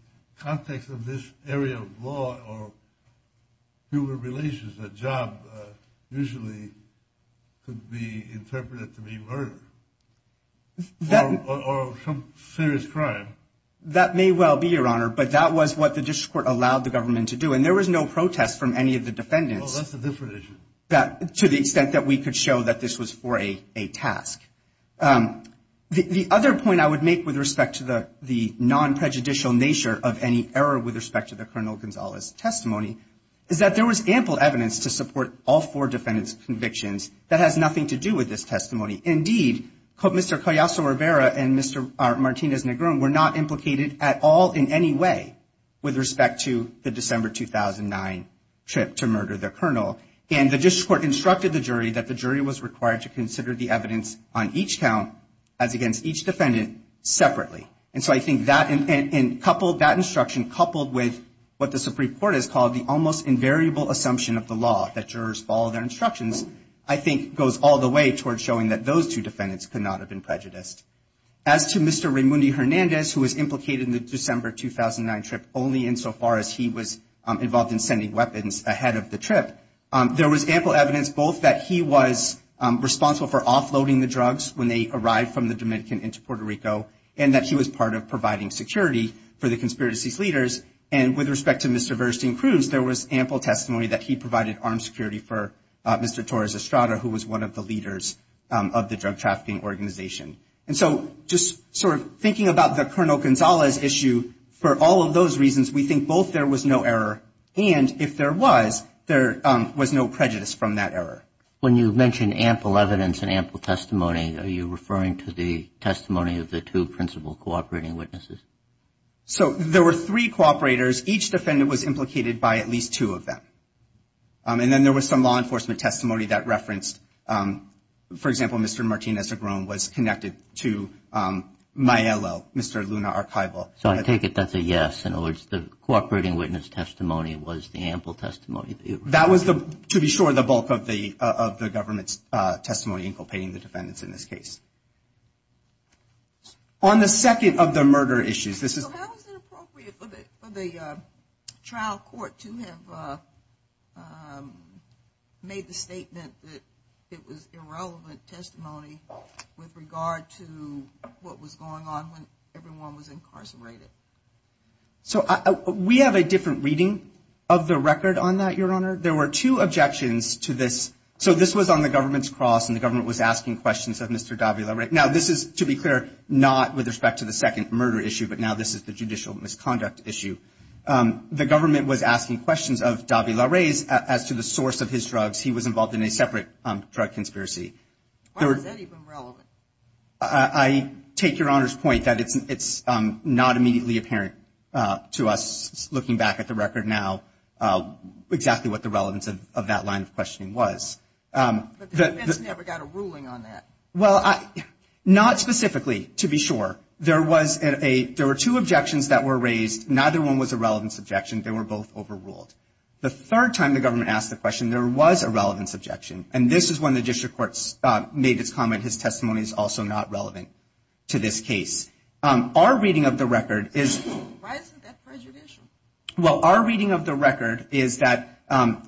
context of this area of law or human relations, a job usually could be interpreted to be murder or some serious crime. That may well be, Your Honor, but that was what the district court allowed the government to do, and there was no protest from any of the defendants. Oh, that's a different issue. To the extent that we could show that this was for a task. The other point I would make with respect to the non-prejudicial nature of any error with respect to the Colonel Gonzalez testimony is that there was ample evidence to support all four defendants' convictions that had nothing to do with this testimony. Indeed, Mr. Callejo-Rivera and Mr. Martinez-Negron were not implicated at all in any way with respect to the December 2009 trip to murder the colonel, and the district court instructed the jury that the jury was required to consider the evidence on each count as against each defendant separately. And so I think that instruction coupled with what the Supreme Court has called the almost invariable assumption of the law that jurors follow their instructions, I think goes all the way towards showing that those two defendants could not have been prejudiced. As to Mr. Raimundi-Hernandez, who was implicated in the December 2009 trip only insofar as he was involved in sending weapons ahead of the trip, there was ample evidence both that he was responsible for offloading the drugs when they arrived from the Dominican into Puerto Rico, and that he was part of providing security for the conspiracy's leaders. And with respect to Mr. Verstein-Cruz, there was ample testimony that he provided armed security for Mr. Torres-Estrada, who was one of the leaders of the drug trafficking organization. And so just sort of thinking about the Colonel Gonzalez issue, for all of those reasons, we think both there was no error, and if there was, there was no prejudice from that error. When you mention ample evidence and ample testimony, are you referring to the testimony of the two principal cooperating witnesses? So there were three cooperators. Each defendant was implicated by at least two of them. And then there was some law enforcement testimony that referenced, for example, Mr. Martinez-Agron was connected to Mayello, Mr. Luna Archival. So I take it that's a yes, in other words, the cooperating witness testimony was the ample testimony. That was, to be sure, the bulk of the government's testimony inculcating the defendants in this case. On the second of the murder issues, this is- So how is it appropriate for the trial court to have made the statement that it was irrelevant testimony with regard to what was going on when everyone was incarcerated? So we have a different reading of the record on that, Your Honor. There were two objections to this. So this was on the government's cross, and the government was asking questions of Mr. Davila. Now, this is, to be clear, not with respect to the second murder issue, but now this is the judicial misconduct issue. The government was asking questions of Davila Reyes as to the source of his drugs. He was involved in a separate drug conspiracy. Why was that even relevant? I take Your Honor's point that it's not immediately apparent to us, looking back at the record now, exactly what the relevance of that line of questioning was. But the defendant never got a ruling on that. Well, not specifically, to be sure. There were two objections that were raised. Neither one was a relevance objection. They were both overruled. The third time the government asked the question, there was a relevance objection, and this is when the district court made its comment, his testimony is also not relevant to this case. Our reading of the record is- Why isn't that prejudicial? Well, our reading of the record is that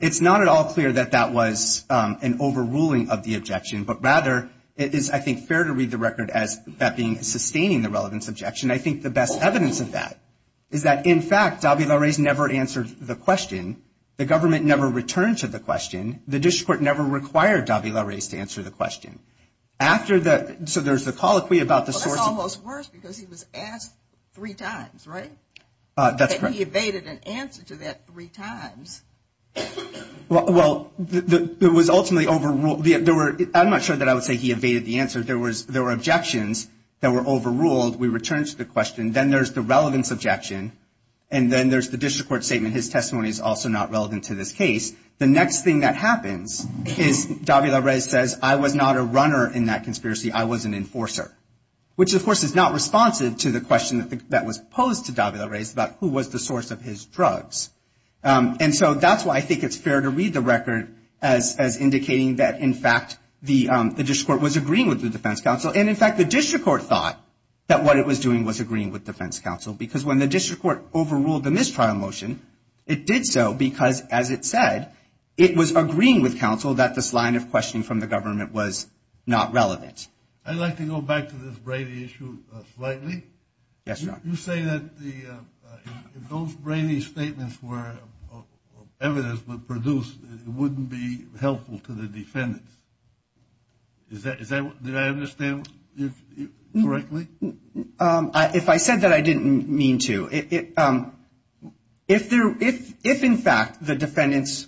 it's not at all clear that that was an overruling of the objection, but rather it is, I think, fair to read the record as that being sustaining the relevance objection. I think the best evidence of that is that, in fact, Davila Reyes never answered the question. The government never returned to the question. The district court never required Davila Reyes to answer the question. After the- so there's a colloquy about the source- Well, it's almost worse because he was asked three times, right? That's correct. And he evaded an answer to that three times. Well, it was ultimately overruled. I'm not sure that I would say he evaded the answer. There were objections that were overruled. We returned to the question. Then there's the relevance objection, and then there's the district court statement, his testimony is also not relevant to this case. The next thing that happens is Davila Reyes says, I was not a runner in that conspiracy. I was an enforcer, which, of course, is not responsive to the question that was posed to Davila Reyes about who was the source of his drugs. And so that's why I think it's fair to read the record as indicating that, in fact, the district court was agreeing with the defense counsel. And, in fact, the district court thought that what it was doing was agreeing with defense counsel because when the district court overruled the mistrial motion, it did so because, as it said, it was agreeing with counsel that this line of questioning from the government was not relevant. I'd like to go back to this Brady issue slightly. Yes, John. You say that if those Brady statements were evidence but produced, it wouldn't be helpful to the defendants. Did I understand you correctly? If I said that, I didn't mean to. If, in fact, the defendants,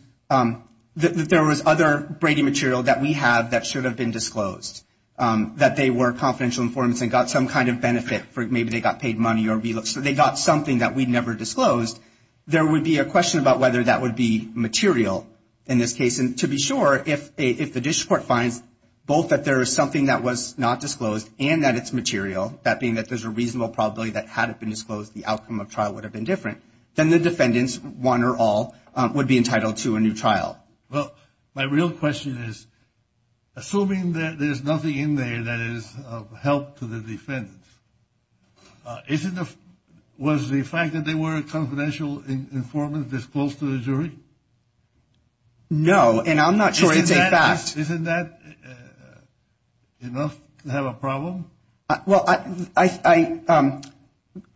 there was other Brady material that we have that should have been disclosed, that they were confidential informants and got some kind of benefit, maybe they got paid money or they got something that we never disclosed, there would be a question about whether that would be material in this case. And to be sure, if the district court finds both that there is something that was not disclosed and that it's material, that being that there's a reasonable probability that had it been disclosed, the outcome of trial would have been different, then the defendants, one or all, would be entitled to a new trial. Well, my real question is, assuming that there's nothing in there that is of help to the defendants, was the fact that they were confidential informants disclosed to the jury? No, and I'm not sure it's a fact. Isn't that enough to have a problem? Well, I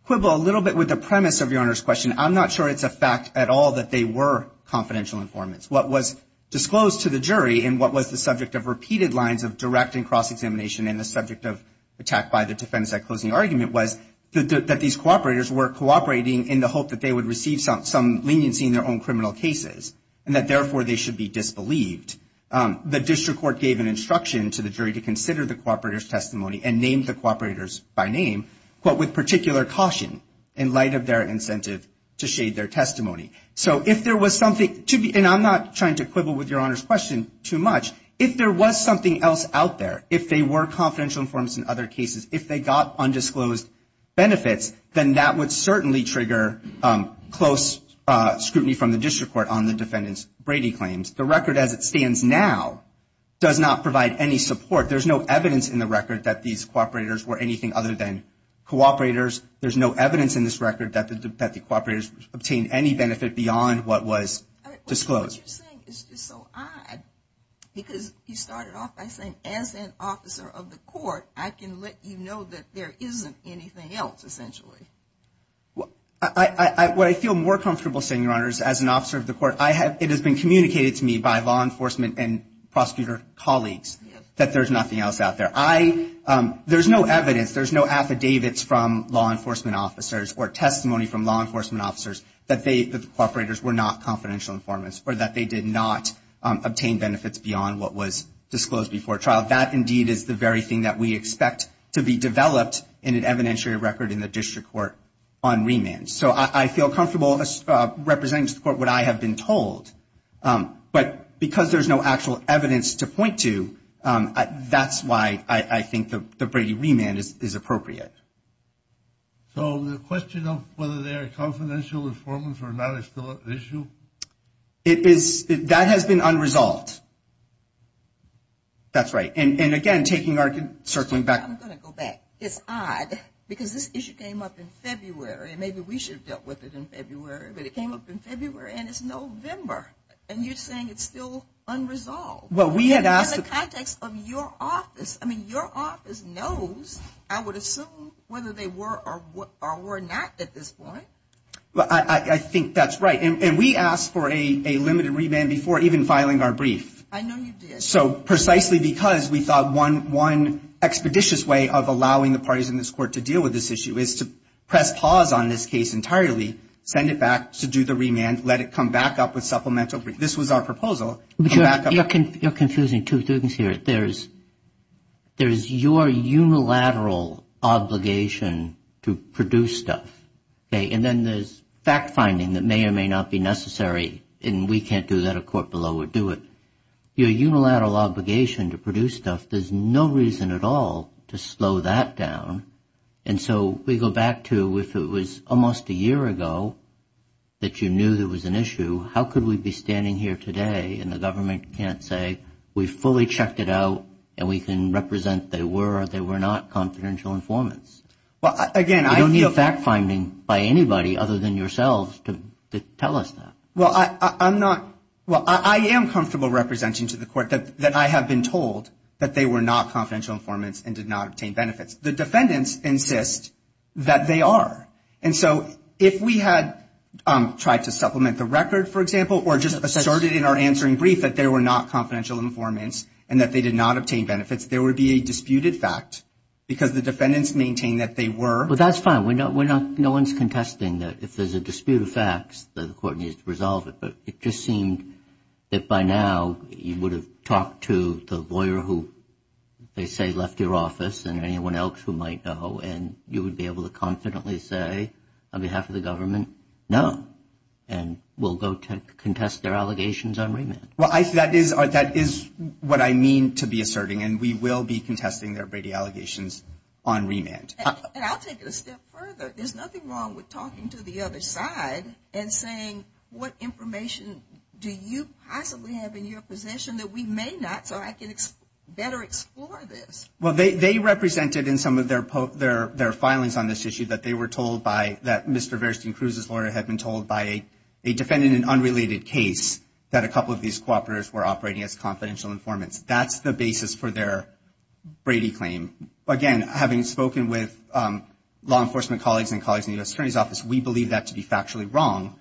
quibble a little bit with the premise of your Honor's question. I'm not sure it's a fact at all that they were confidential informants. What was disclosed to the jury and what was the subject of repeated lines of direct and cross-examination and the subject of attack by the defendants at closing argument was that these cooperators were cooperating in the hope that they would receive some leniency in their own criminal cases and that, therefore, they should be disbelieved. The district court gave an instruction to the jury to consider the cooperator's testimony and name the cooperators by name, but with particular caution in light of their incentive to shade their testimony. So if there was something, and I'm not trying to quibble with your Honor's question too much, if there was something else out there, if they were confidential informants in other cases, if they got undisclosed benefits, then that would certainly trigger close scrutiny from the district court on the defendants' Brady claims. The record as it stands now does not provide any support. There's no evidence in the record that these cooperators were anything other than cooperators. There's no evidence in this record that the cooperators obtained any benefit beyond what was disclosed. What you're saying is just so odd because you started off by saying as an officer of the court, I can let you know that there isn't anything else essentially. What I feel more comfortable saying, Your Honors, as an officer of the court, it has been communicated to me by law enforcement and prosecutor colleagues that there's nothing else out there. There's no evidence, there's no affidavits from law enforcement officers or testimony from law enforcement officers that the cooperators were not confidential informants or that they did not obtain benefits beyond what was disclosed before trial. That, indeed, is the very thing that we expect to be developed in an evidentiary record in the district court on remands. So I feel comfortable representing to the court what I have been told. But because there's no actual evidence to point to, that's why I think the Brady remand is appropriate. So the question of whether they are confidential informants or not is still an issue? That has been unresolved. That's right. I'm going to go back. It's odd because this issue came up in February and maybe we should have dealt with it in February, but it came up in February and it's November and you're saying it's still unresolved. In the context of your office, I mean, your office knows, I would assume, whether they were or were not at this point. I think that's right. And we asked for a limited remand before even filing our brief. I know you did. So precisely because we thought one expeditious way of allowing the parties in this court to deal with this issue is to press pause on this case entirely, send it back to do the remand, let it come back up with supplemental brief. This was our proposal. You're confusing two things here. There's your unilateral obligation to produce stuff, and then there's fact-finding that may or may not be necessary, and we can't do that in a court below or do it. Your unilateral obligation to produce stuff, there's no reason at all to slow that down. And so we go back to if it was almost a year ago that you knew there was an issue, how could we be standing here today and the government can't say we fully checked it out and we can represent they were or they were not confidential informants? You don't need a fact-finding by anybody other than yourselves to tell us that. Well, I am comfortable representing to the court that I have been told that they were not confidential informants and did not obtain benefits. The defendants insist that they are. And so if we had tried to supplement the record, for example, or just asserted in our answering brief that they were not confidential informants and that they did not obtain benefits, there would be a disputed fact because the defendants maintain that they were. Well, that's fine. No one's contesting that if there's a disputed fact that the court needs to resolve it, but it just seemed that by now you would have talked to the lawyer who they say left your office and anyone else who might know, and you would be able to confidently say on behalf of the government, no, and we'll go to contest their allegations on remand. Well, that is what I mean to be asserting, and we will be contesting their Brady allegations on remand. And I'll take it a step further. There's nothing wrong with talking to the other side and saying, what information do you possibly have in your possession that we may not, so I can better explore this? Well, they represented in some of their filings on this issue that they were told by, that Mr. Verston Cruz's lawyer had been told by a defendant in an unrelated case that a couple of these cooperators were operating as confidential informants. That's the basis for their Brady claim. Again, having spoken with law enforcement colleagues and colleagues in the attorney's office, we believe that to be factually wrong.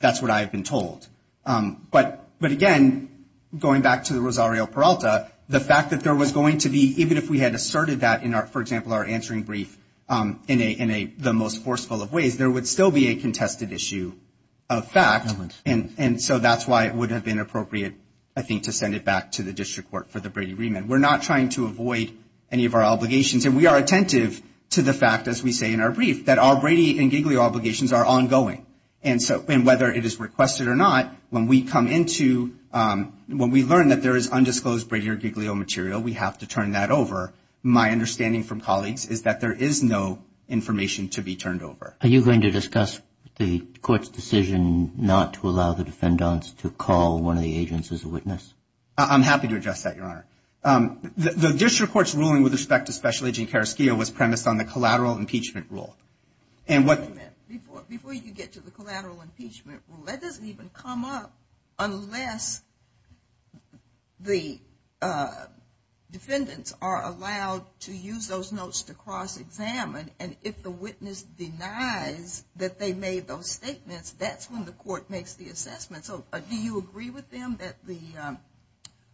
That's what I have been told. But again, going back to the Rosario Peralta, the fact that there was going to be, even if we had asserted that in our, for example, our answering brief in the most forceful of ways, there would still be a contested issue of fact, and so that's why it would have been appropriate, I think, to send it back to the district court for the Brady remand. We're not trying to avoid any of our obligations, and we are attentive to the fact, as we say in our brief, that our Brady and Giglio obligations are ongoing. And so whether it is requested or not, when we come into, when we learn that there is undisclosed Brady or Giglio material, we have to turn that over. My understanding from colleagues is that there is no information to be turned over. Are you going to discuss the court's decision not to allow the defendants to call one of the agents as a witness? I'm happy to address that, Your Honor. The district court's ruling with respect to Special Agent Carrasquillo was premised on the collateral impeachment rule. Before you get to the collateral impeachment rule, that doesn't even come up unless the defendants are allowed to use those notes to cross-examine, and if the witness denies that they made those statements, that's when the court makes the assessment. Do you agree with them that the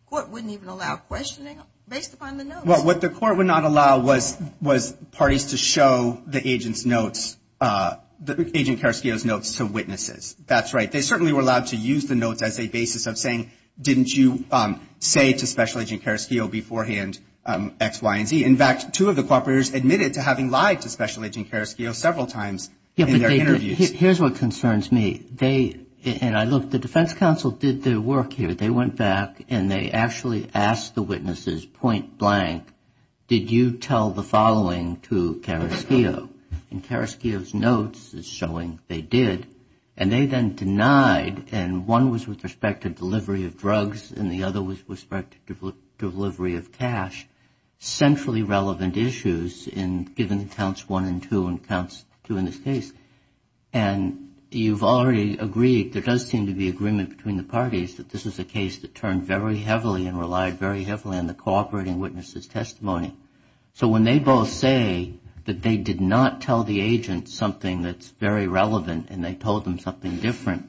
court wouldn't even allow questioning based upon the notes? Well, what the court would not allow was parties to show the agent Carrasquillo's notes to witnesses. That's right. They certainly were allowed to use the notes as a basis of saying, didn't you say to Special Agent Carrasquillo beforehand X, Y, and Z? In fact, two of the cooperators admitted to having lied to Special Agent Carrasquillo several times in their interviews. Here's what concerns me. Look, the defense counsel did their work here. They went back and they actually asked the witnesses point blank, did you tell the following to Carrasquillo? And Carrasquillo's notes is showing they did, and they then denied, and one was with respect to delivery of drugs and the other was with respect to delivery of cash, centrally relevant issues given counts one and two in this case. And you've already agreed, there does seem to be agreement between the parties, that this is a case that turned very heavily and relied very heavily on the cooperating witnesses' testimony. So when they both say that they did not tell the agent something that's very relevant and they told them something different,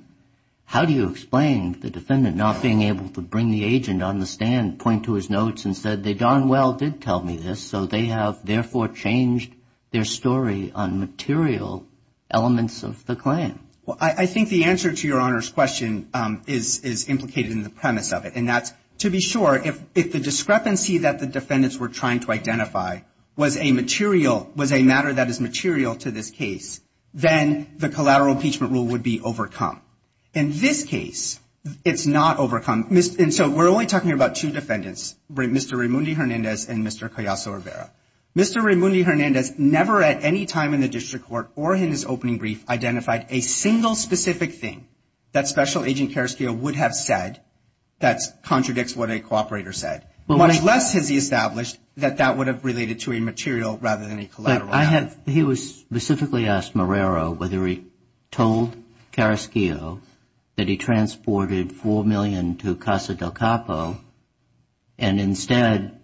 how do you explain the defendant not being able to bring the agent on the stand, point to his notes and say, they darn well did tell me this, so they have therefore changed their story on material elements of the claim? Well, I think the answer to your Honor's question is implicated in the premise of it, and that's to be sure if the discrepancy that the defendants were trying to identify was a material, was a matter that is material to this case, then the collateral impeachment rule would be overcome. In this case, it's not overcome. And so we're only talking about two defendants, Mr. Raimundi Hernandez and Mr. Callaso Rivera. Mr. Raimundi Hernandez never at any time in the district court or in his opening brief identified a single specific thing that Special Agent Carrasquillo would have said that contradicts what a cooperator said, much less has he established that that would have related to a material rather than a collateral. He specifically asked Marrero whether he told Carrasquillo that he transported $4 million to Casa del Capo, and instead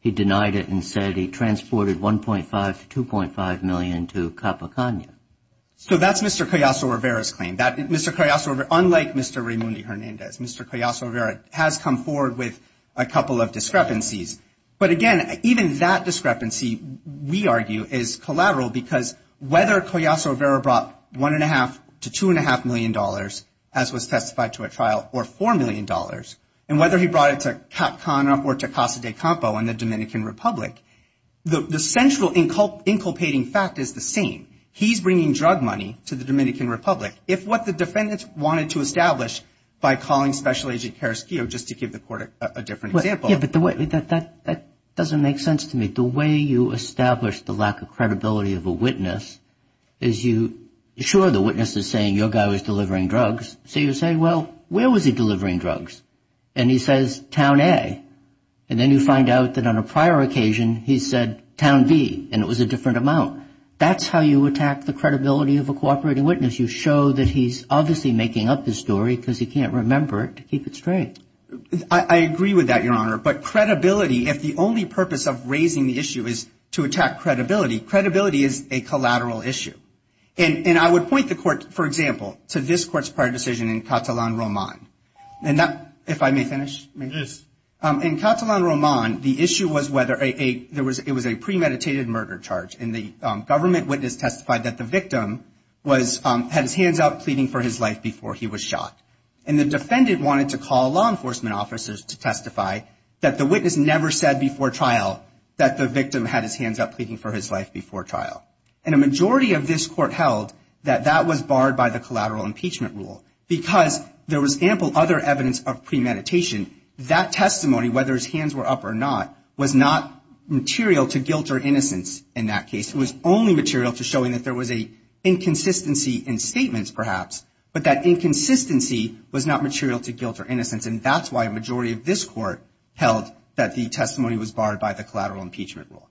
he denied it and said he transported $1.5 to $2.5 million to Capocano. So that's Mr. Callaso Rivera's claim. Unlike Mr. Raimundi Hernandez, Mr. Callaso Rivera has come forward with a couple of discrepancies. But again, even that discrepancy, we argue, is collateral because whether Callaso Rivera brought $1.5 to $2.5 million, as was specified to a trial, or $4 million, and whether he brought it to Capocano or to Casa del Capo in the Dominican Republic, the central inculpating fact is the same. He's bringing drug money to the Dominican Republic. If what the defendants wanted to establish by calling Special Agent Carrasquillo, just to give the court a different example. Yeah, but that doesn't make sense to me. The way you establish the lack of credibility of a witness is you – sure, the witness is saying your guy was delivering drugs. So you say, well, where was he delivering drugs? And he says, Town A. And then you find out that on a prior occasion he said Town B, and it was a different amount. That's how you attack the credibility of a cooperating witness. You show that he's obviously making up the story because he can't remember to keep it straight. I agree with that, Your Honor. But credibility, if the only purpose of raising the issue is to attack credibility, credibility is a collateral issue. And I would point the court, for example, to this court's prior decision in Catalan Roman. And that – if I may finish? Yes. In Catalan Roman, the issue was whether a – it was a premeditated murder charge, and the government witness testified that the victim was – had his hands up pleading for his life before he was shot. And the defendant wanted to call law enforcement officers to testify that the witness never said before trial that the victim had his hands up pleading for his life before trial. And a majority of this court held that that was barred by the collateral impeachment rule because there was ample other evidence of premeditation. That testimony, whether his hands were up or not, was not material to guilt or innocence in that case. It was only material to showing that there was a inconsistency in statements, perhaps, but that inconsistency was not material to guilt or innocence, and that's why a majority of this court held that the testimony was barred by the collateral impeachment rule.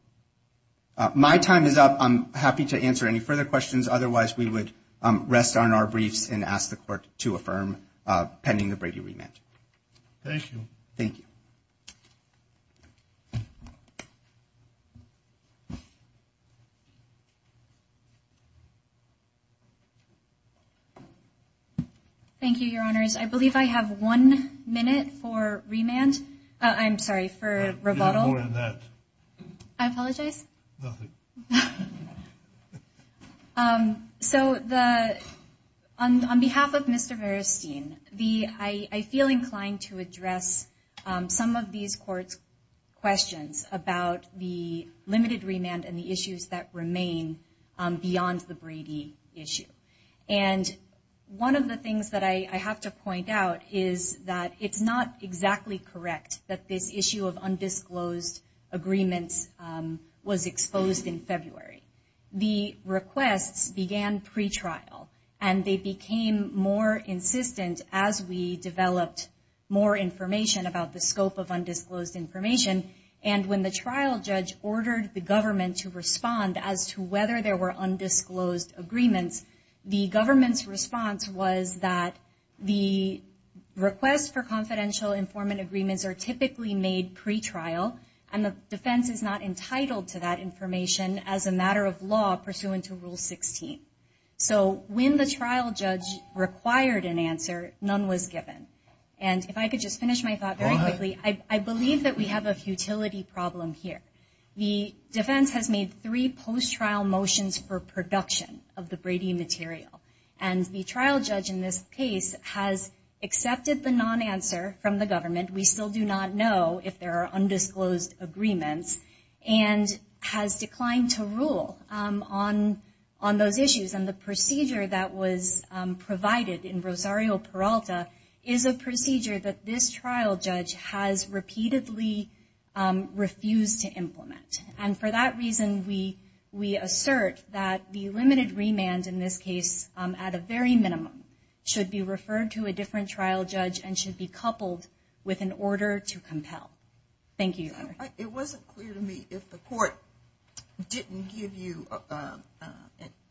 My time is up. I'm happy to answer any further questions. Otherwise, we would rest on our briefs and ask the court to affirm pending the briefing. Thank you. Thank you. Thank you, Your Honors. I believe I have one minute for remand. I'm sorry, for rebuttal. Not more than that. I apologize? Nothing. So on behalf of Mr. Veristein, I feel inclined to address some of these courts' questions about the limited remand and the issues that remain beyond the Brady issue. And one of the things that I have to point out is that it's not exactly correct that this issue of undisclosed agreement was exposed in February. The request began pretrial, and they became more insistent as we developed more information about the scope of undisclosed information, and when the trial judge ordered the government to respond as to whether there were undisclosed agreements, the government's response was that the request for confidential informant agreements are typically made pretrial, and the defense is not entitled to that information as a matter of law pursuant to Rule 16. So when the trial judge required an answer, none was given. And if I could just finish my thought very quickly, I believe that we have a futility problem here. The defense has made three post-trial motions for production of the Brady material, and the trial judge in this case has accepted the non-answer from the government, we still do not know if there are undisclosed agreements, and has declined to rule on those issues. And the procedure that was provided in Rosario Peralta is a procedure that this trial judge has repeatedly refused to implement. And for that reason, we assert that the limited remands in this case, at a very minimum, should be referred to a different trial judge and should be coupled with an order to compel. Thank you. It wasn't clear to me if the court didn't give you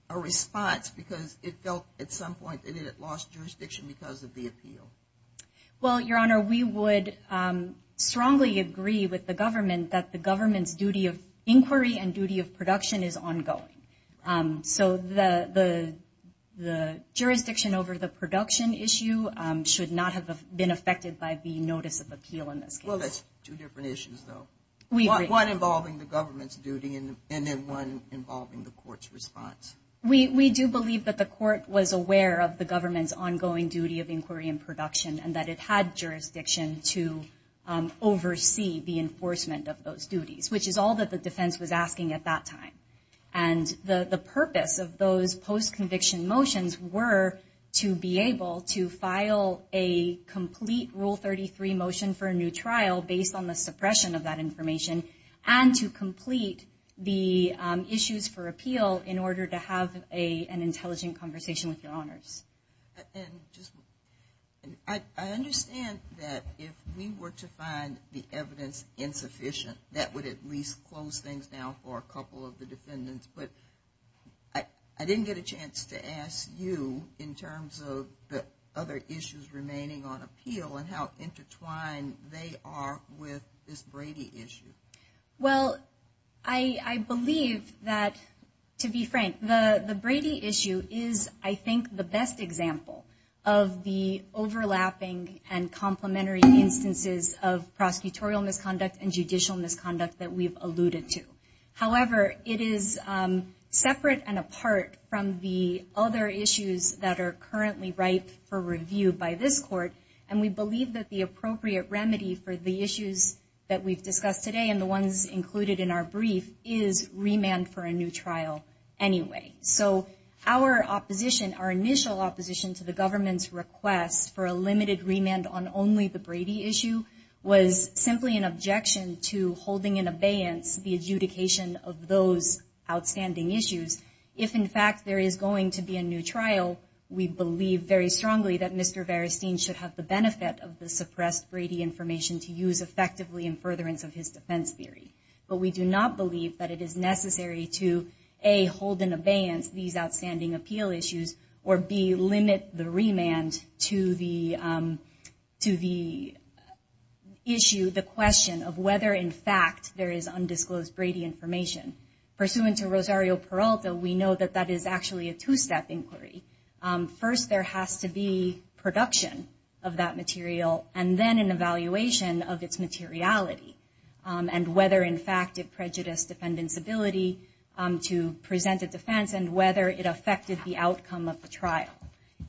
a response because it felt at some point that it had lost jurisdiction because of the appeal. Well, Your Honor, we would strongly agree with the government that the government's duty of inquiry and duty of production is ongoing. So the jurisdiction over the production issue should not have been affected by the notice of appeal. Well, that's two different issues, though. One involving the government's duty and then one involving the court's response. We do believe that the court was aware of the government's ongoing duty of inquiry and production and that it had jurisdiction to oversee the enforcement of those duties, which is all that the defense was asking at that time. And the purpose of those post-conviction motions were to be able to file a complete Rule 33 motion for a new trial based on the suppression of that information and to complete the issues for appeal in order to have an intelligent conversation with Your Honor. I understand that if we were to find the evidence insufficient, that would at least close things down for a couple of the defendants. But I didn't get a chance to ask you in terms of the other issues remaining on appeal and how intertwined they are with this Brady issue. Well, I believe that, to be frank, the Brady issue is, I think, the best example of the overlapping and complementary instances of prosecutorial misconduct and judicial misconduct that we've alluded to. However, it is separate and apart from the other issues that are currently ripe for review by this court, and we believe that the appropriate remedy for the issues that we've discussed today and the ones included in our brief is remand for a new trial anyway. So our opposition, our initial opposition to the government's request for a limited remand on only the Brady issue was simply an objection to holding in abeyance the adjudication of those outstanding issues. If, in fact, there is going to be a new trial, we believe very strongly that Mr. Veristein should have the benefit of the suppressed Brady information to use effectively in furtherance of his defense theory. But we do not believe that it is necessary to, A, hold in abeyance these outstanding appeal issues, or, B, limit the remand to the issue, the question of whether, in fact, there is undisclosed Brady information. Pursuant to Rosario-Peralta, we know that that is actually a two-step inquiry. First, there has to be production of that material and then an evaluation of its materiality and whether, in fact, it prejudiced defendants' ability to present a defense and whether it affected the outcome of the trial.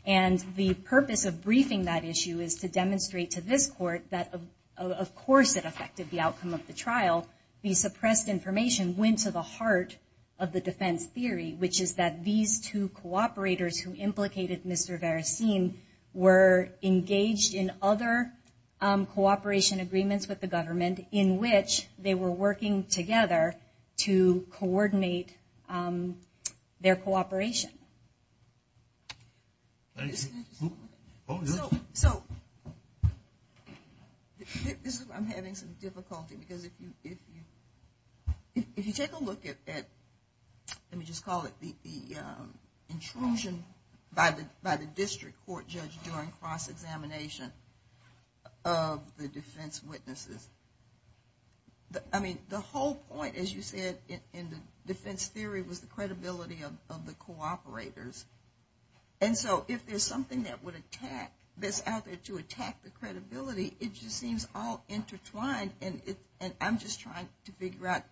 And the purpose of briefing that issue is to demonstrate to this court that, of course, the suppressed information went to the heart of the defense theory, which is that these two cooperators who implicated Mr. Veristein were engaged in other cooperation agreements with the government in which they were working together to coordinate their cooperation. So I'm having some difficulty because if you take a look at, let me just call it the intrusion by the district court judge during cross-examination of the defense witnesses, I mean, the whole point, as you said, in the defense theory was the credibility of the cooperators. And so if there's something that's out there to attack the credibility, it just seems all intertwined. And I'm just trying to figure out,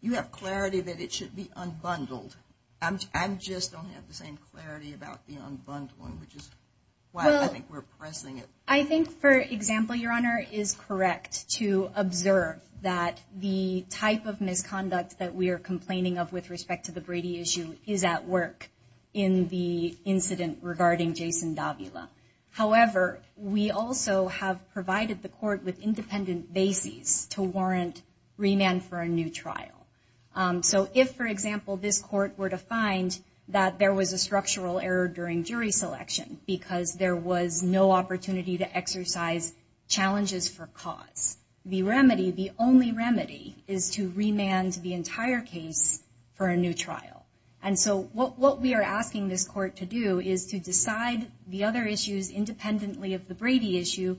you have clarity that it should be unbundled. I just don't have the same clarity about the unbundling, which is why I think we're pressing it. I think, for example, Your Honor, it is correct to observe that the type of misconduct that we are complaining of with respect to the Brady issue is at work in the incident regarding Jason Davila. However, we also have provided the court with independent bases to warrant remand for a new trial. So if, for example, this court were to find that there was a structural error during jury selection because there was no opportunity to exercise challenges for cause, the remedy, the only remedy, is to remand the entire case for a new trial. And so what we are asking this court to do is to decide the other issues independently of the Brady issue,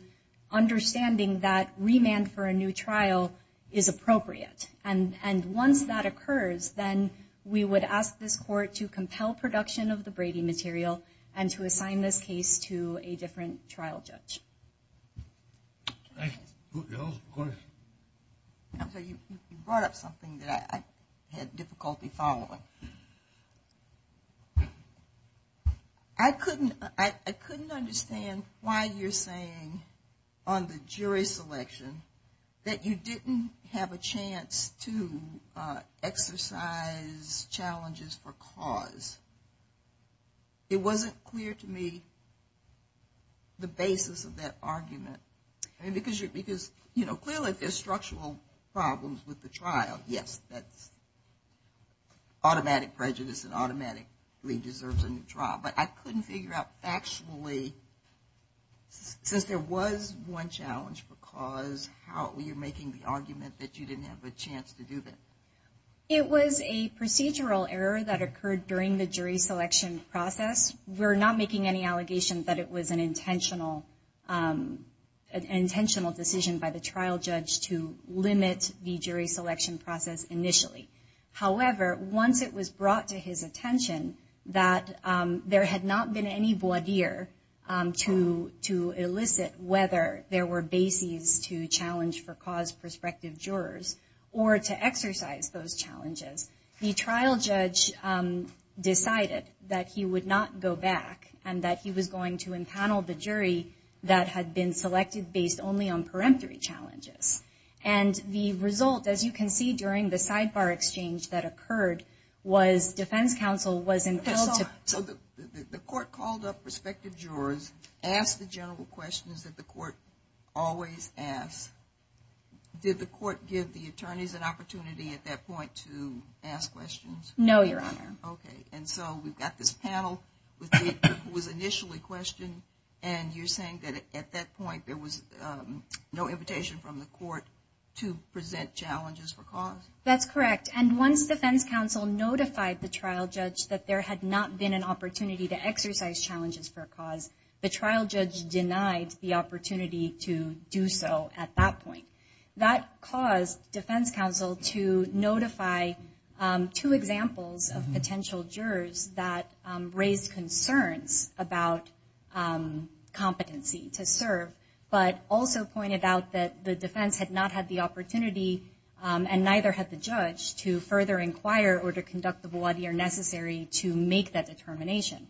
understanding that remand for a new trial is appropriate. And once that occurs, then we would ask this court to compel production of the Brady material and to assign this case to a different trial judge. Thank you. You brought up something that I had difficulty following. I couldn't understand why you're saying on the jury selection that you didn't have a chance to exercise challenges for cause. It wasn't clear to me the basis of that argument. And because, you know, clearly there's structural problems with the trial, yes, that automatic prejudice and automatic redress in the trial. But I couldn't figure out actually, since there was one challenge for cause, how you're making the argument that you didn't have a chance to do that. It was a procedural error that occurred during the jury selection process. We're not making any allegations, but it was an intentional decision by the trial judge to limit the jury selection process initially. However, once it was brought to his attention that there had not been any voir dire to elicit whether there were bases to challenge for cause prospective jurors or to exercise those challenges, the trial judge decided that he would not go back and that he was going to empanel the jury that had been selected based only on peremptory challenges. And the result, as you can see during the sidebar exchange that occurred, was defense counsel was entitled to- When the jury selected jurors, ask the general questions that the court always asks. Did the court give the attorneys an opportunity at that point to ask questions? No, Your Honor. Okay. And so we've got this panel that was initially questioned, and you're saying that at that point there was no invitation from the court to present challenges for cause? That's correct. And once defense counsel notified the trial judge that there had not been an opportunity to exercise challenges for cause, the trial judge denied the opportunity to do so at that point. That caused defense counsel to notify two examples of potential jurors that raised concerns about competency to serve, but also pointed out that the defense had not had the opportunity and neither had the judge to further inquire or to conduct the voir dire necessary to make that determination.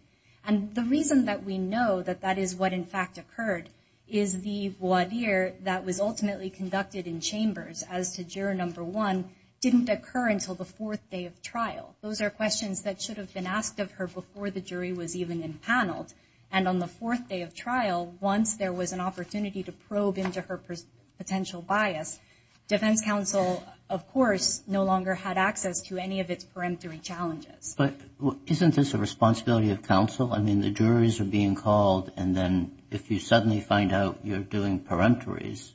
And the reason that we know that that is what in fact occurred is the voir dire that was ultimately conducted in chambers, as to juror number one, didn't occur until the fourth day of trial. Those are questions that should have been asked of her before the jury was even empaneled. And on the fourth day of trial, once there was an opportunity to probe into her potential bias, defense counsel, of course, no longer had access to any of its peremptory challenges. But isn't this a responsibility of counsel? I mean, the juries are being called, and then if you suddenly find out you're doing peremptories,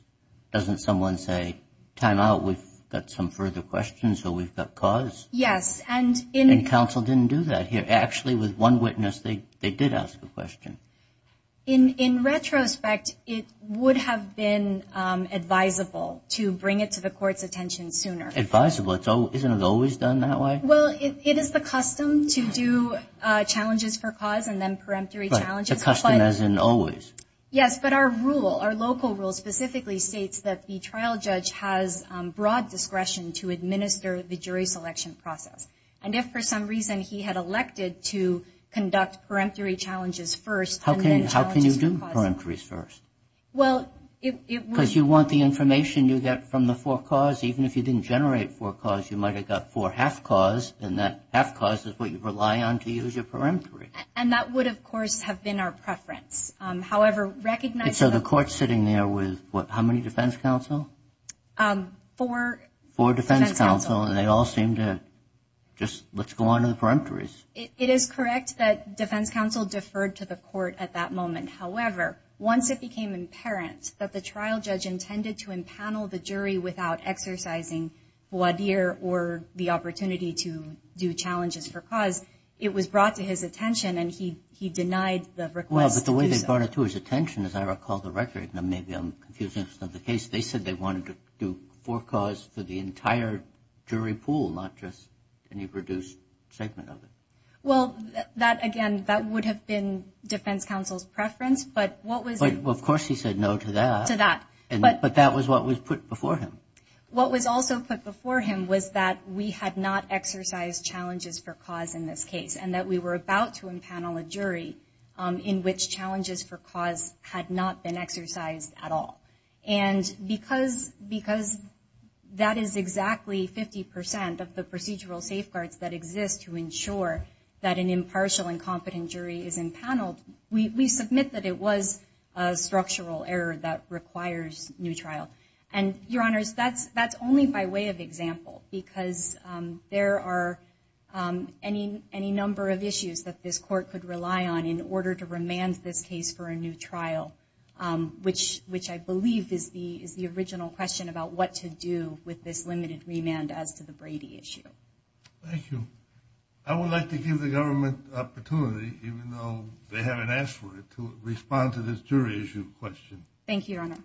doesn't someone say, time out, we've got some further questions or we've got cause? Yes. And counsel didn't do that. Actually, with one witness, they did ask a question. In retrospect, it would have been advisable to bring it to the court's attention sooner. Advisable? Isn't it always done that way? Well, it is the custom to do challenges for cause and then peremptory challenges. The custom as in always. Yes, but our rule, our local rule specifically states that the trial judge has broad discretion to administer the jury selection process. And if for some reason he had elected to conduct peremptory challenges first. How can you do peremptories first? Because you want the information you get from the fore cause. Even if you didn't generate fore cause, you might have got fore half cause, and that half cause is what you rely on to use your peremptory. And that would, of course, have been our preference. So the court sitting there was how many defense counsel? Four. Four defense counsel, and they all seemed to just let's go on to the peremptories. It is correct that defense counsel deferred to the court at that moment. However, once it became apparent that the trial judge intended to empanel the jury without exercising or the opportunity to do challenges for cause, it was brought to his attention and he denied the request. Well, but the way they brought it to his attention, as I recall the record, they said they wanted to do fore cause for the entire jury pool, not just any reduced segment of it. Well, that, again, that would have been defense counsel's preference. But what was. Well, of course he said no to that. To that. But that was what was put before him. What was also put before him was that we had not exercised challenges for cause in this case and that we were about to empanel a jury in which challenges for cause had not been exercised at all. And because that is exactly 50% of the procedural safeguards that exist to ensure that an impartial and competent jury is empaneled, we submit that it was a structural error that requires new trials. And, Your Honors, that's only by way of example. Because there are any number of issues that this court could rely on in order to remand this case for a new trial, which I believe is the original question about what to do with this limited remand as to the Brady issue. Thank you. I would like to give the government the opportunity, even though they haven't asked for it, to respond to this jury issue question. Thank you, Your Honor.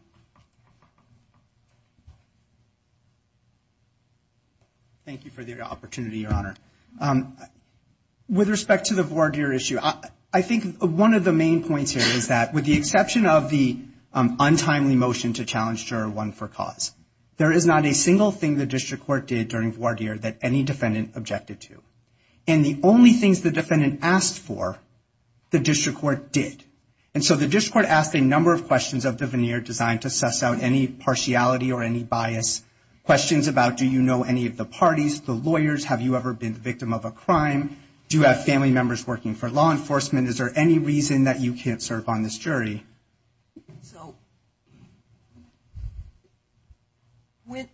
Thank you for the opportunity, Your Honor. With respect to the voir dire issue, I think one of the main points here is that, with the exception of the untimely motion to challenge Juror 1 for cause, there is not a single thing the district court did during voir dire that any defendant objected to. And the only things the defendant asked for, the district court did. And so the district court asked a number of questions of the veneer designed to suss out any partiality or any bias, questions about do you know any of the parties, the lawyers, have you ever been a victim of a crime, do you have family members working for law enforcement, is there any reason that you can't serve on this jury.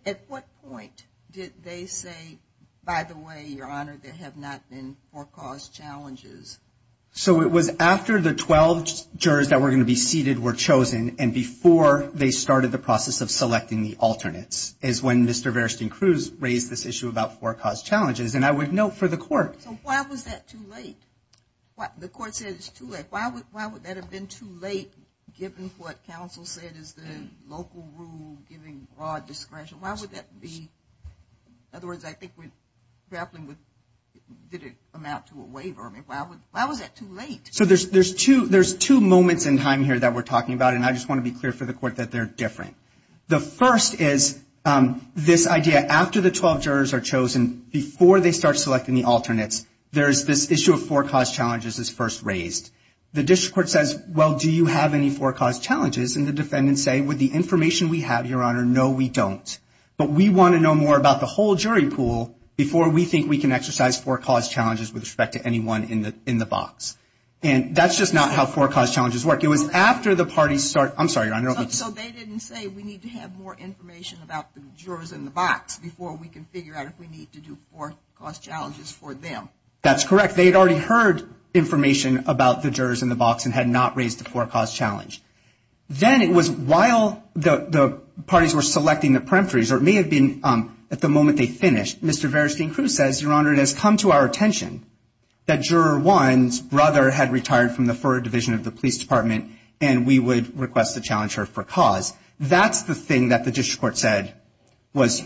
At what point did they say, by the way, Your Honor, there have not been for cause challenges? So it was after the 12 jurors that were going to be seated were chosen and before they started the process of selecting the alternates, is when Mr. Verstein-Cruz raised this issue about for cause challenges. And I would note for the court. So why was that too late? The court said it's too late. Why would that have been too late given what counsel said is the local rule giving broad discretion? Why would that be? In other words, I think grappling with did it amount to a waiver? I mean, why was that too late? So there's two moments in time here that we're talking about, and I just want to be clear for the court that they're different. The first is this idea after the 12 jurors are chosen, before they start selecting the alternates, there's this issue of for cause challenges is first raised. The district court says, well, do you have any for cause challenges? And the defendants say, with the information we have, Your Honor, no, we don't. But we want to know more about the whole jury pool before we think we can exercise for cause challenges with respect to anyone in the box. And that's just not how for cause challenges work. It was after the parties start – I'm sorry, Your Honor. So they didn't say we need to have more information about the jurors in the box before we can figure out if we need to do for cause challenges for them. That's correct. They had already heard information about the jurors in the box and had not raised the for cause challenge. Then it was while the parties were selecting the peremptories, or it may have been at the moment they finished, Mr. Veristeen-Crews said, Your Honor, it has come to our attention that Juror 1's brother had retired from the 4th Division of the Police Department, and we would request to challenge her for cause. That's the thing that the district court said was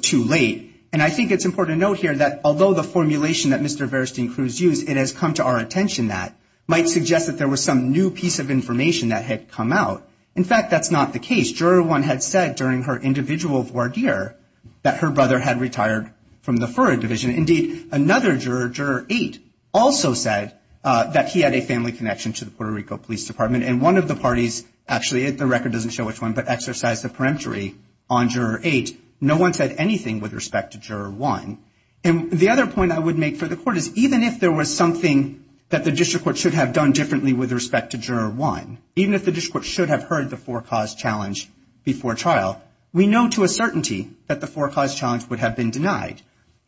too late. And I think it's important to note here that although the formulation that Mr. Veristeen-Crews used, it has come to our attention that, might suggest that there was some new piece of information that had come out. In fact, that's not the case. Juror 1 had said during her individual voir dire that her brother had retired from the 4th Division. Indeed, another juror, Juror 8, also said that he had a family connection to the Puerto Rico Police Department, and one of the parties, actually the record doesn't show which one, but exercised the peremptory on Juror 8. No one said anything with respect to Juror 1. And the other point I would make for the court is even if there was something that the district court should have done differently with respect to Juror 1, even if the district court should have heard the for cause challenge before trial, we know to a certainty that the for cause challenge would have been denied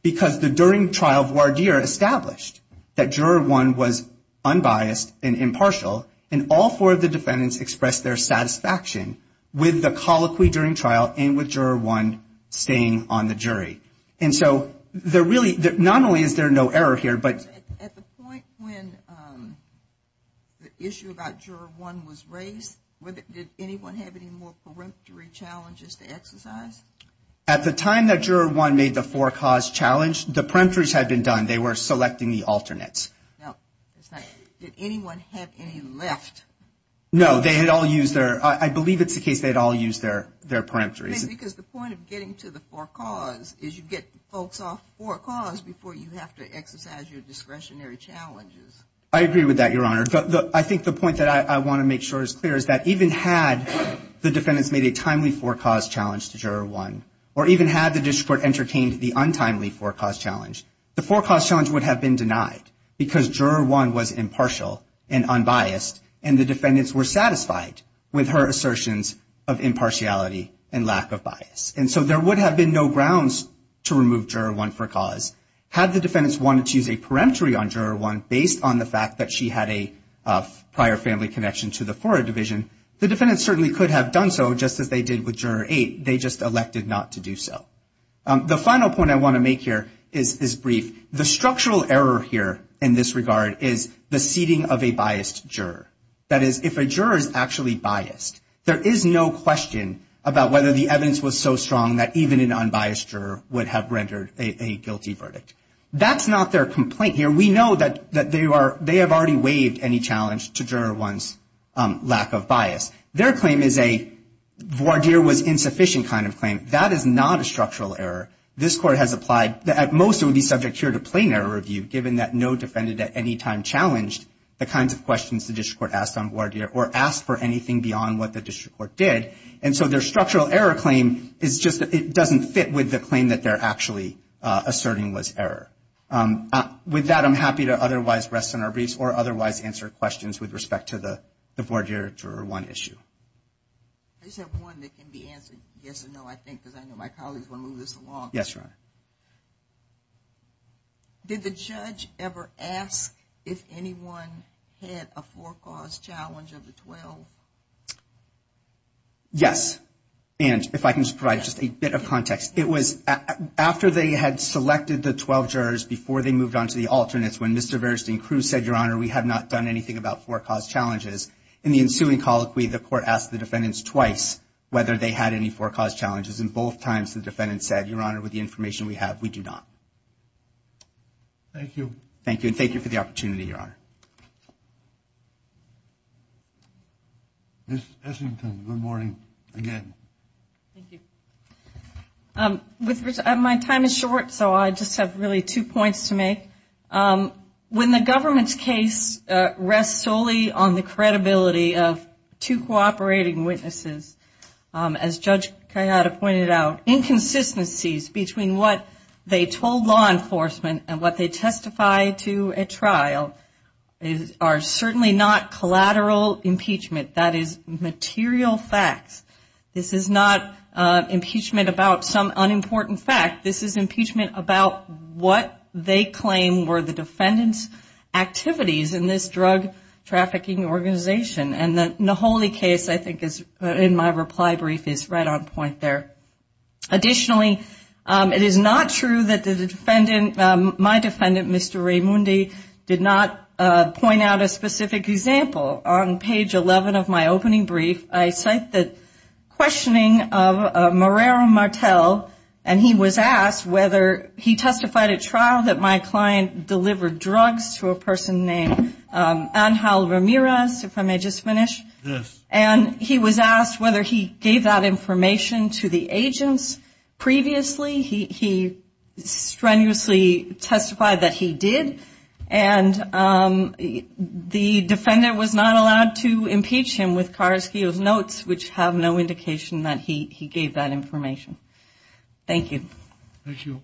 because the during trial voir dire established that Juror 1 was unbiased and impartial, and all four of the defendants expressed their satisfaction with the colloquy during trial and with Juror 1 staying on the jury. And so there really, not only is there no error here, but. At the point when the issue about Juror 1 was raised, did anyone have any more peremptory challenges to exercise? At the time that Juror 1 made the for cause challenge, the peremptories had been done. They were selecting the alternates. Now, did anyone have any left? No, they had all used their, I believe it's the case they had all used their peremptories. Because the point of getting to the for cause is you get folks off the for cause before you have to exercise your discretionary challenges. I agree with that, Your Honor. But I think the point that I want to make sure is clear is that even had the defendants made a timely for cause challenge to Juror 1, or even had the district court entertained the untimely for cause challenge, the for cause challenge would have been denied because Juror 1 was impartial and unbiased and the defendants were satisfied with her assertions of impartiality and lack of bias. And so there would have been no grounds to remove Juror 1 for cause. Had the defendants wanted to use a peremptory on Juror 1 based on the fact that she had a prior family connection to the Florida Division, the defendants certainly could have done so, just as they did with Juror 8. They just elected not to do so. The final point I want to make here is brief. The structural error here in this regard is the seating of a biased juror. That is, if a juror is actually biased, there is no question about whether the evidence was so strong that even an unbiased juror would have rendered a guilty verdict. That's not their complaint here. We know that they have already waived any challenge to Juror 1's lack of bias. Their claim is a voir dire with insufficient kind of claim. That is not a structural error. This Court has applied that at most it would be subject here to plain error review, given that no defendant at any time challenged the kinds of questions the District Court asked on voir dire or asked for anything beyond what the District Court did. And so their structural error claim is just that it doesn't fit with the claim that they're actually asserting was error. With that, I'm happy to otherwise rest on our knees or otherwise answer questions with respect to the voir dire Juror 1 issue. I just have one that can be answered, yes or no, I think, because I know my colleagues will move this along. Yes, Your Honor. Did the judge ever ask if anyone had a for-cause challenge of the 12? Yes. And if I can provide just a bit of context, it was after they had selected the 12 jurors before they moved on to the alternates, when Mr. Verstein-Crews said, Your Honor, we have not done anything about for-cause challenges, in the ensuing colloquy, the Court asked the defendants twice whether they had any for-cause challenges, and both times the defendants said, Your Honor, with the information we have, we do not. Thank you. Thank you, and thank you for the opportunity, Your Honor. Ms. Eshington, good morning again. Thank you. My time is short, so I just have really two points to make. When the government's case rests solely on the credibility of two cooperating witnesses, as Judge Kayada pointed out, inconsistencies between what they told law enforcement and what they testified to at trial are certainly not collateral impeachment. That is material facts. This is not impeachment about some unimportant fact. This is impeachment about what they claim were the defendants' activities in this drug trafficking organization. And the Naholi case, I think, in my reply brief is right on point there. Additionally, it is not true that my defendant, Mr. Raimundi, did not point out a specific example. On page 11 of my opening brief, I cite the questioning of Moreira Martel, and he was asked whether he testified at trial that my client delivered drugs to a person named Angel Ramirez, if I may just finish. Yes. And he was asked whether he gave that information to the agents previously. He strenuously testified that he did. And the defendant was not allowed to impeach him with Carrasquillo's notes, which have no indication that he gave that information. Thank you. Thank you.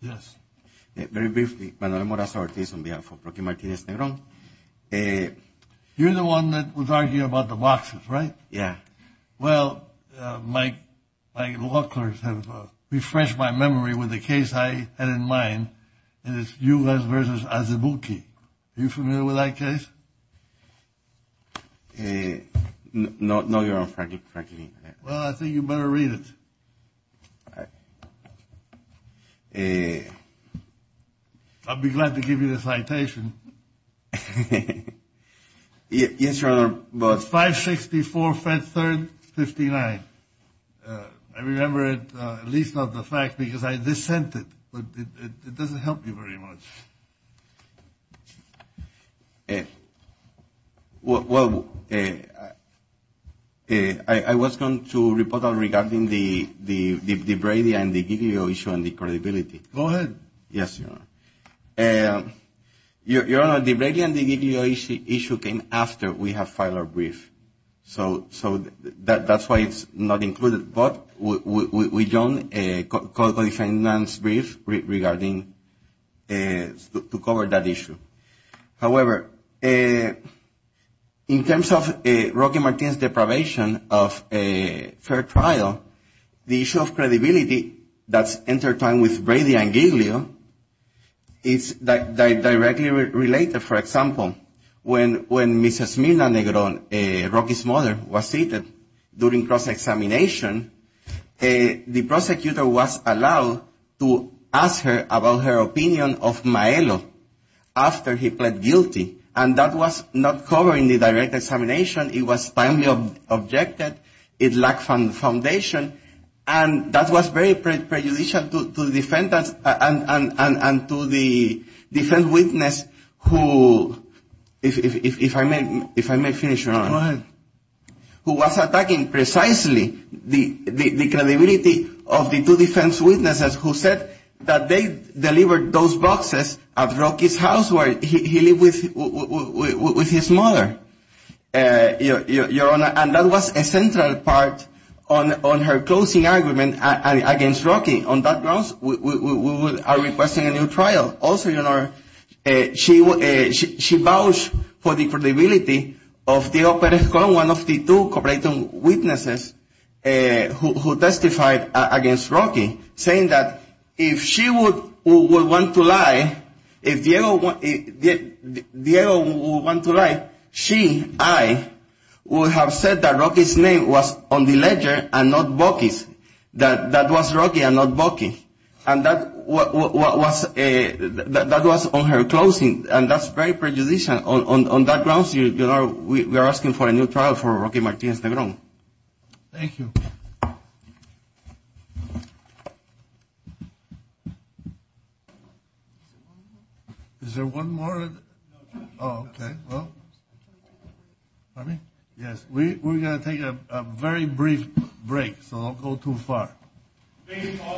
Yes. Very briefly, Manuel Moraza-Ortiz, on behalf of Rookie Martinez Negro. You're the one that was arguing about the boxes, right? Yes. Well, my law clerks have refreshed my memory with a case I had in mind. It is Yugas v. Azebuchi. Are you familiar with that case? No, Your Honor. Well, I think you better read it. I'll be glad to give you the citation. Yes, Your Honor. 564-3-59. I remember it, at least of the fact, because I just sent it. But it doesn't help you very much. Yes. Well, I was going to report on regarding the Bravia and the VDO issue and the credibility. Go ahead. Yes, Your Honor. Your Honor, the Bravia and the VDO issue came after we had filed our brief. So that's why it's not included. But we don't call the defendant's brief regarding to cover that issue. However, in terms of Rookie Martinez's deprivation of a fair trial, the issue of credibility that's intertwined with Bravia and VDO is directly related. For example, when Mrs. Mila Negron, Rookie's mother, was seated during cross-examination, the prosecutor was allowed to ask her about her opinion of Maelo after he pled guilty. And that was not covered in the direct examination. It was finally objected. It lacked some foundation. And that was very prejudicial to the defense witness who, if I may finish, Your Honor. Go ahead. Who was attacking precisely the credibility of the two defense witnesses who said that they delivered those boxes at Rookie's house where he lived with his mother, Your Honor. And that was a central part on her closing argument against Rookie. On that grounds, we are requesting a new trial. Also, Your Honor, she vouched for the credibility of Diego Perezcon, one of the two complainant witnesses who testified against Rookie, saying that if Diego would want to lie, she, I, would have said that Rookie's name was on the ledger and not Bucky's. That was Rookie and not Bucky. And that was on her closing. And that's very prejudicial. On that grounds, Your Honor, we are asking for a new trial for Rookie Martinez Negron. Thank you. Is there one more? Okay. Well, we're going to take a very brief break, so don't go too far.